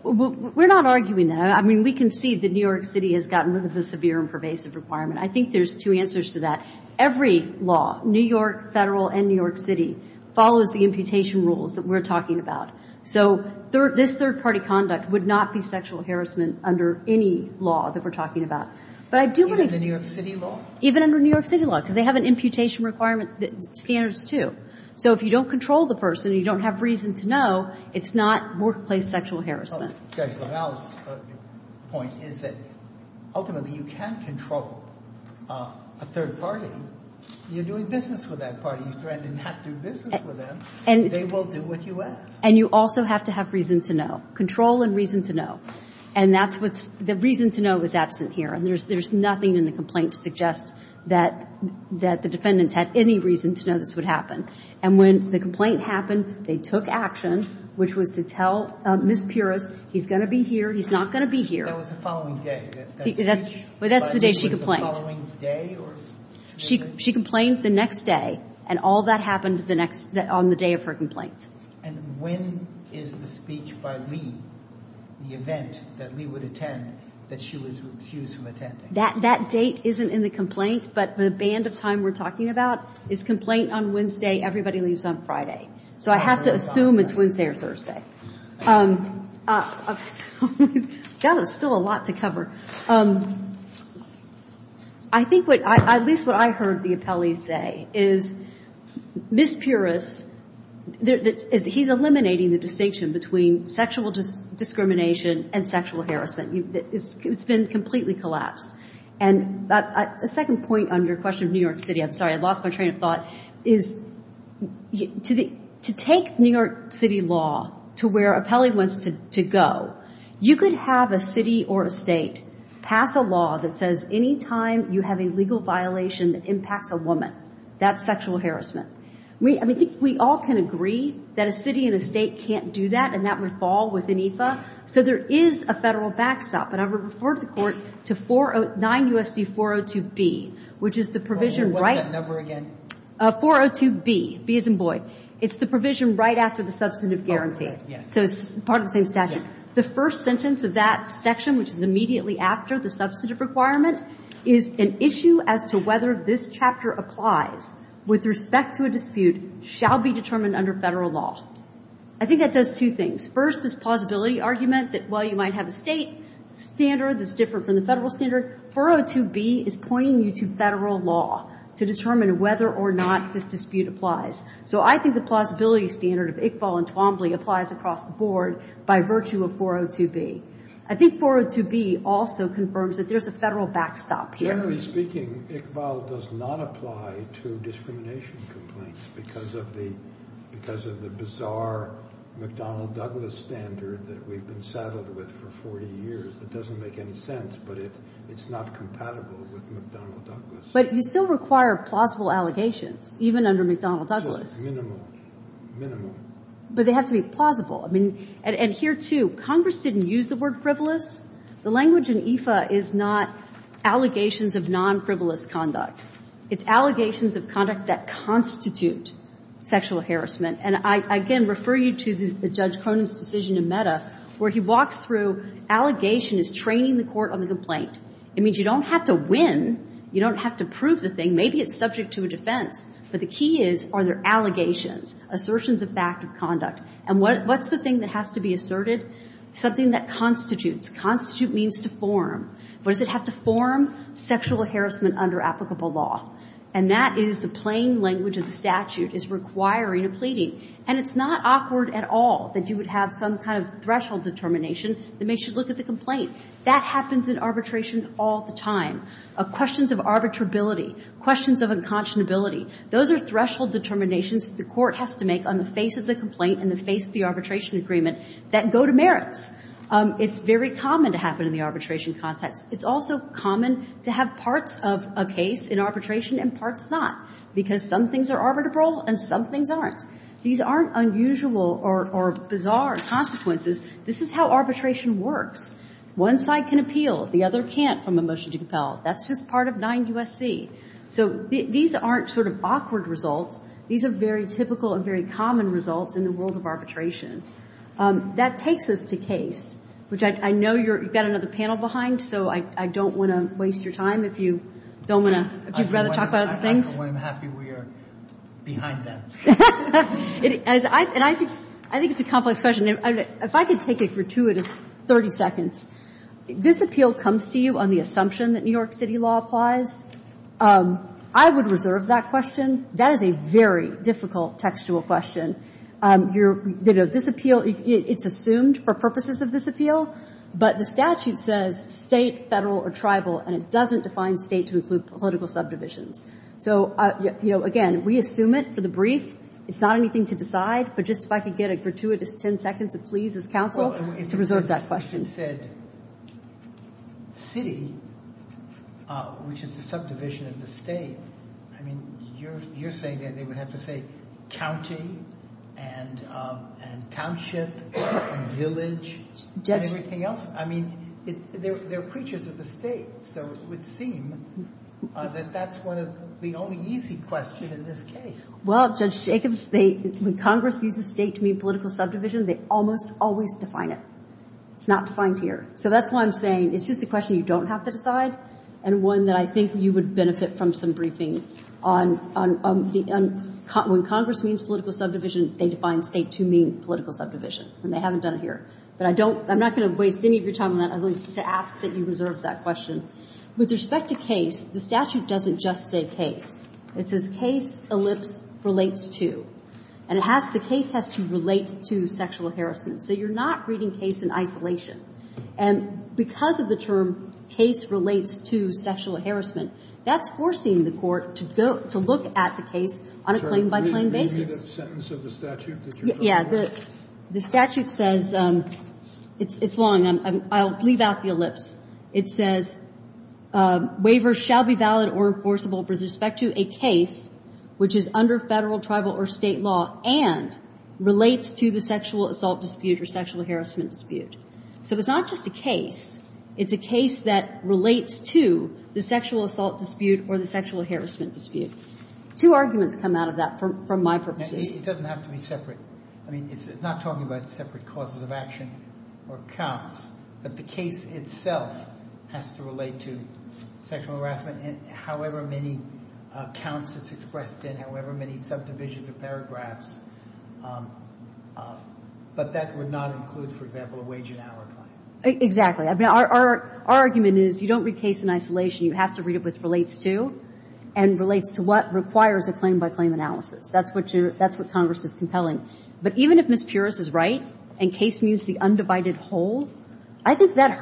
We're not arguing that. I mean, we can see that New York City has gotten rid of the severe and pervasive requirement. I think there's two answers to that. Every law, New York federal and New York City, follows the imputation rules that we're talking about. So this third-party conduct would not be sexual harassment under any law that we're talking about. Even under New York City law? Even under New York City law because they have an imputation requirement standards, too. So if you don't control the person and you don't have reason to know, it's not workplace sexual harassment. The point is that ultimately you can't control a third party. You're doing business with that party. You threatened not to do business with them. They will do what you ask. And you also have to have reason to know. Control and reason to know. And that's what's, the reason to know is absent here. And there's nothing in the complaint to suggest that the defendants had any reason to know this would happen. And when the complaint happened, they took action, which was to tell Ms. Pierce, he's going to be here, he's not going to be here. That was the following day. That's the day she complained. The following day? She complained the next day. And all that happened the next, on the day of her complaint. And when is the speech by Lee, the event that Lee would attend, that she was refused from attending? That date isn't in the complaint, but the band of time we're talking about is complaint on Wednesday, everybody leaves on Friday. So I have to assume it's Wednesday or Thursday. That is still a lot to cover. I think what, at least what I heard the appellees say is Ms. Pierce, he's eliminating the distinction between sexual discrimination and sexual harassment. It's been completely collapsed. And a second point on your question of New York City, I'm sorry, I lost my train of thought, is to take New York City law to where an appellee wants to go, you could have a city or a state pass a law that says any time you have a legal violation that impacts a woman, that's sexual harassment. We all can agree that a city and a state can't do that, and that would fall within EFA. So there is a Federal backstop. And I would refer the Court to 409 U.S.C. 402B, which is the provision right. What's that number again? 402B, B as in Boyd. It's the provision right after the substantive guarantee. Yes. So it's part of the same statute. The first sentence of that section, which is immediately after the substantive requirement, is an issue as to whether this chapter applies with respect to a dispute, shall be determined under Federal law. I think that does two things. First, this plausibility argument that while you might have a state standard that's different from the Federal standard, 402B is pointing you to Federal law to determine whether or not this dispute applies. So I think the plausibility standard of Iqbal and Twombly applies across the board by virtue of 402B. I think 402B also confirms that there's a Federal backstop here. Generally speaking, Iqbal does not apply to discrimination complaints because of the bizarre McDonnell-Douglas standard that we've been saddled with for 40 years. It doesn't make any sense, but it's not compatible with McDonnell-Douglas. But you still require plausible allegations, even under McDonnell-Douglas. Minimum. Minimum. But they have to be plausible. I mean, and here, too, Congress didn't use the word frivolous. The language in IFA is not allegations of non-frivolous conduct. It's allegations of conduct that constitute sexual harassment. And I, again, refer you to Judge Cronin's decision in Mehta where he walks through allegation as training the court on the complaint. It means you don't have to win. You don't have to prove the thing. Maybe it's subject to a defense. But the key is, are there allegations, assertions of fact of conduct? And what's the thing that has to be asserted? Something that constitutes. Constitute means to form. What does it have to form? Sexual harassment under applicable law. And that is the plain language of the statute is requiring a pleading. And it's not awkward at all that you would have some kind of threshold determination that makes you look at the complaint. That happens in arbitration all the time. Questions of arbitrability, questions of unconscionability, those are threshold determinations that the court has to make on the face of the complaint and the face of the arbitration agreement that go to merits. It's very common to happen in the arbitration context. It's also common to have parts of a case in arbitration and parts not, because some things are arbitrable and some things aren't. These aren't unusual or bizarre consequences. This is how arbitration works. One side can appeal. The other can't from a motion to compel. That's just part of 9 U.S.C. So these aren't sort of awkward results. These are very typical and very common results in the world of arbitration. That takes us to case, which I know you've got another panel behind, so I don't want to waste your time if you don't want to – if you'd rather talk about other I'm happy we are behind them. And I think it's a complex question. If I could take a gratuitous 30 seconds, this appeal comes to you on the assumption that New York City law applies. I would reserve that question. That is a very difficult textual question. This appeal, it's assumed for purposes of this appeal, but the statute says state, federal, or tribal, and it doesn't define state to include political subdivisions. So, again, we assume it for the brief. It's not anything to decide, but just if I could get a gratuitous 10 seconds, please, as counsel, to reserve that question. You said city, which is the subdivision of the state. I mean, you're saying that they would have to say county and township and village and everything else. I mean, they're preachers of the state, so it would seem that that's one of the only easy questions in this case. Well, Judge Jacobs, when Congress uses state to mean political subdivision, they almost always define it. It's not defined here. So that's why I'm saying it's just a question you don't have to decide and one that I think you would benefit from some briefing on the end. When Congress means political subdivision, they define state to mean political subdivision, and they haven't done it here. But I don't – I'm not going to waste any of your time on that. I'd like to ask that you reserve that question. With respect to case, the statute doesn't just say case. It says case ellipse relates to. And it has – the case has to relate to sexual harassment. So you're not reading case in isolation. And because of the term case relates to sexual harassment, that's forcing the court to go – to look at the case on a claim-by-claim basis. So are you reading the sentence of the statute that you're referring to? Yeah. The statute says – it's long. I'll leave out the ellipse. It says, Waivers shall be valid or enforceable with respect to a case which is under Federal, Tribal, or State law and relates to the sexual assault dispute or sexual harassment dispute. So it's not just a case. It's a case that relates to the sexual assault dispute or the sexual harassment dispute. Two arguments come out of that from my purposes. It doesn't have to be separate. I mean, it's not talking about separate causes of action or counts. But the case itself has to relate to sexual harassment. And however many counts it's expressed in, however many subdivisions or paragraphs, but that would not include, for example, a wage and hour claim. Exactly. I mean, our argument is you don't read case in isolation. You have to read it with relates to and relates to what requires a claim-by-claim analysis. That's what you're – that's what Congress is compelling. But even if Ms. Pierce is right and case means the undivided whole, I think that the undivided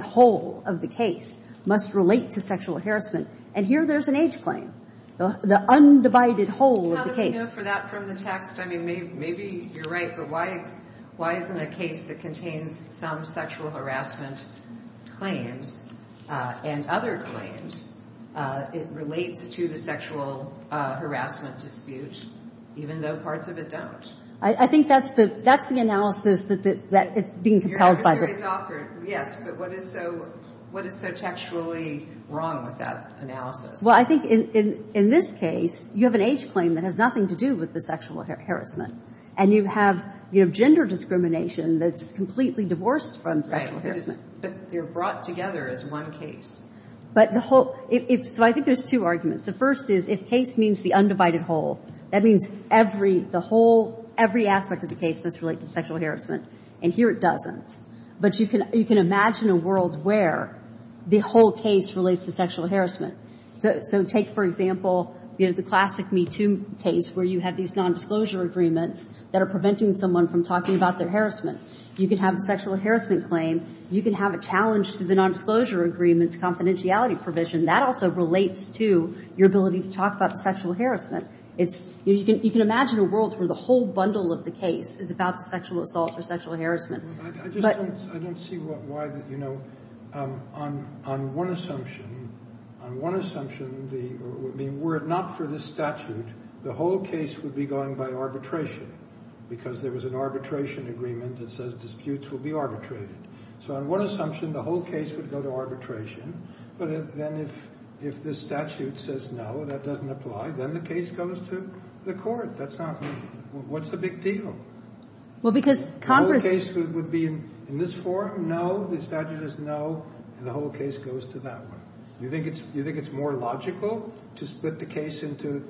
whole of the case must relate to sexual harassment. And here there's an age claim. The undivided whole of the case. How do we know for that from the text? I mean, maybe you're right. But why isn't a case that contains some sexual harassment claims and other claims, it relates to the sexual harassment dispute, even though parts of it don't? I think that's the analysis that it's being compelled by. Yes, but what is so textually wrong with that analysis? Well, I think in this case you have an age claim that has nothing to do with the sexual harassment. And you have gender discrimination that's completely divorced from sexual harassment. Right. But they're brought together as one case. But the whole – so I think there's two arguments. The first is if case means the undivided whole, that means every – the whole – every aspect of the case must relate to sexual harassment. And here it doesn't. But you can imagine a world where the whole case relates to sexual harassment. So take, for example, the classic MeToo case where you have these nondisclosure agreements that are preventing someone from talking about their harassment. You can have a sexual harassment claim. You can have a challenge to the nondisclosure agreement's confidentiality provision. That also relates to your ability to talk about sexual harassment. It's – you can imagine a world where the whole bundle of the case is about the sexual assault or sexual harassment. But – I just don't – I don't see why the – you know, on one assumption, on one assumption, the – were it not for this statute, the whole case would be going by arbitration because there was an arbitration agreement that says disputes will be arbitrated. So on one assumption, the whole case would go to arbitration. But then if this statute says no, that doesn't apply, then the case goes to the That's not – what's the big deal? Well, because Congress – The whole case would be in this forum, no. The statute is no. And the whole case goes to that one. Do you think it's – do you think it's more logical to split the case into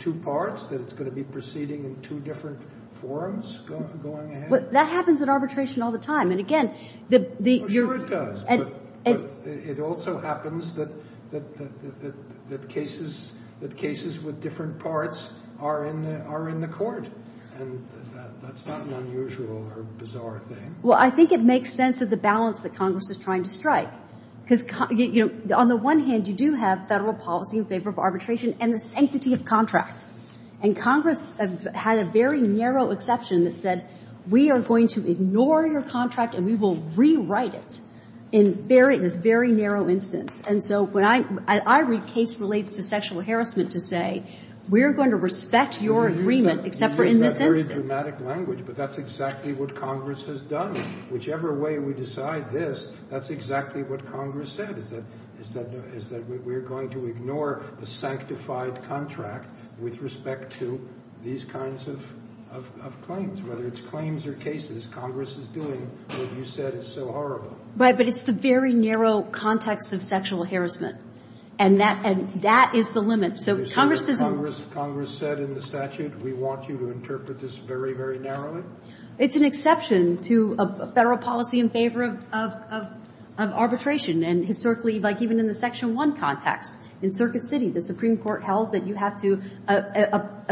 two parts, that it's going to be proceeding in two different forums going ahead? Well, that happens at arbitration all the time. And again, the – Well, sure it does. But it also happens that cases – that cases with different parts are in the court. And that's not an unusual or bizarre thing. Well, I think it makes sense of the balance that Congress is trying to strike. Because, you know, on the one hand, you do have Federal policy in favor of arbitration and the sanctity of contract. And Congress had a very narrow exception that said we are going to ignore your contract and we will rewrite it in this very narrow instance. And so when I – I read case related to sexual harassment to say we're going to respect your agreement except for in this instance. That's a very dramatic language. But that's exactly what Congress has done. Whichever way we decide this, that's exactly what Congress said, is that – is that we're going to ignore the sanctified contract with respect to these kinds of claims, whether it's claims or cases. Congress is doing what you said is so horrible. Right. But it's the very narrow context of sexual harassment. And that – and that is the limit. So Congress is – Congress said in the statute we want you to interpret this very, very narrowly. It's an exception to Federal policy in favor of arbitration. And historically, like even in the Section 1 context, in Circuit City, the Supreme Court held that you have to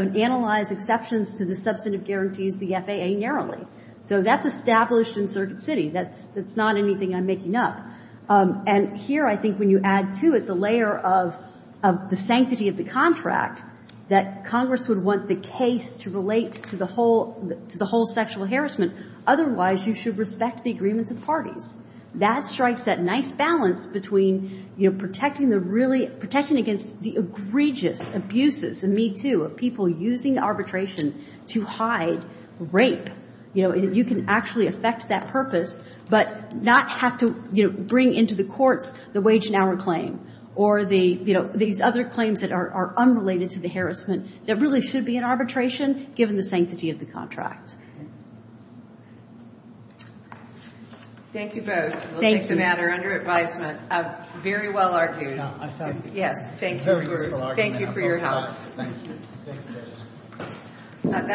analyze exceptions to the substantive guarantees, the FAA, narrowly. So that's established in Circuit City. That's not anything I'm making up. And here I think when you add to it the layer of the sanctity of the contract, that Congress would want the case to relate to the whole – to the whole sexual harassment. Otherwise, you should respect the agreements of parties. That strikes that nice balance between, you know, protecting the really – protecting against the egregious abuses, and me too, of people using arbitration to hide rape. You know, you can actually affect that purpose, but not have to, you know, bring into the courts the wage and hour claim or the – you know, these other claims that are unrelated to the harassment that really should be in arbitration given the sanctity of the contract. Thank you both. Thank you. We'll take the matter under advisement. Very well argued. I thank you. Yes, thank you. Very useful argument. Thank you for your help. Thank you. Thank you, Judge.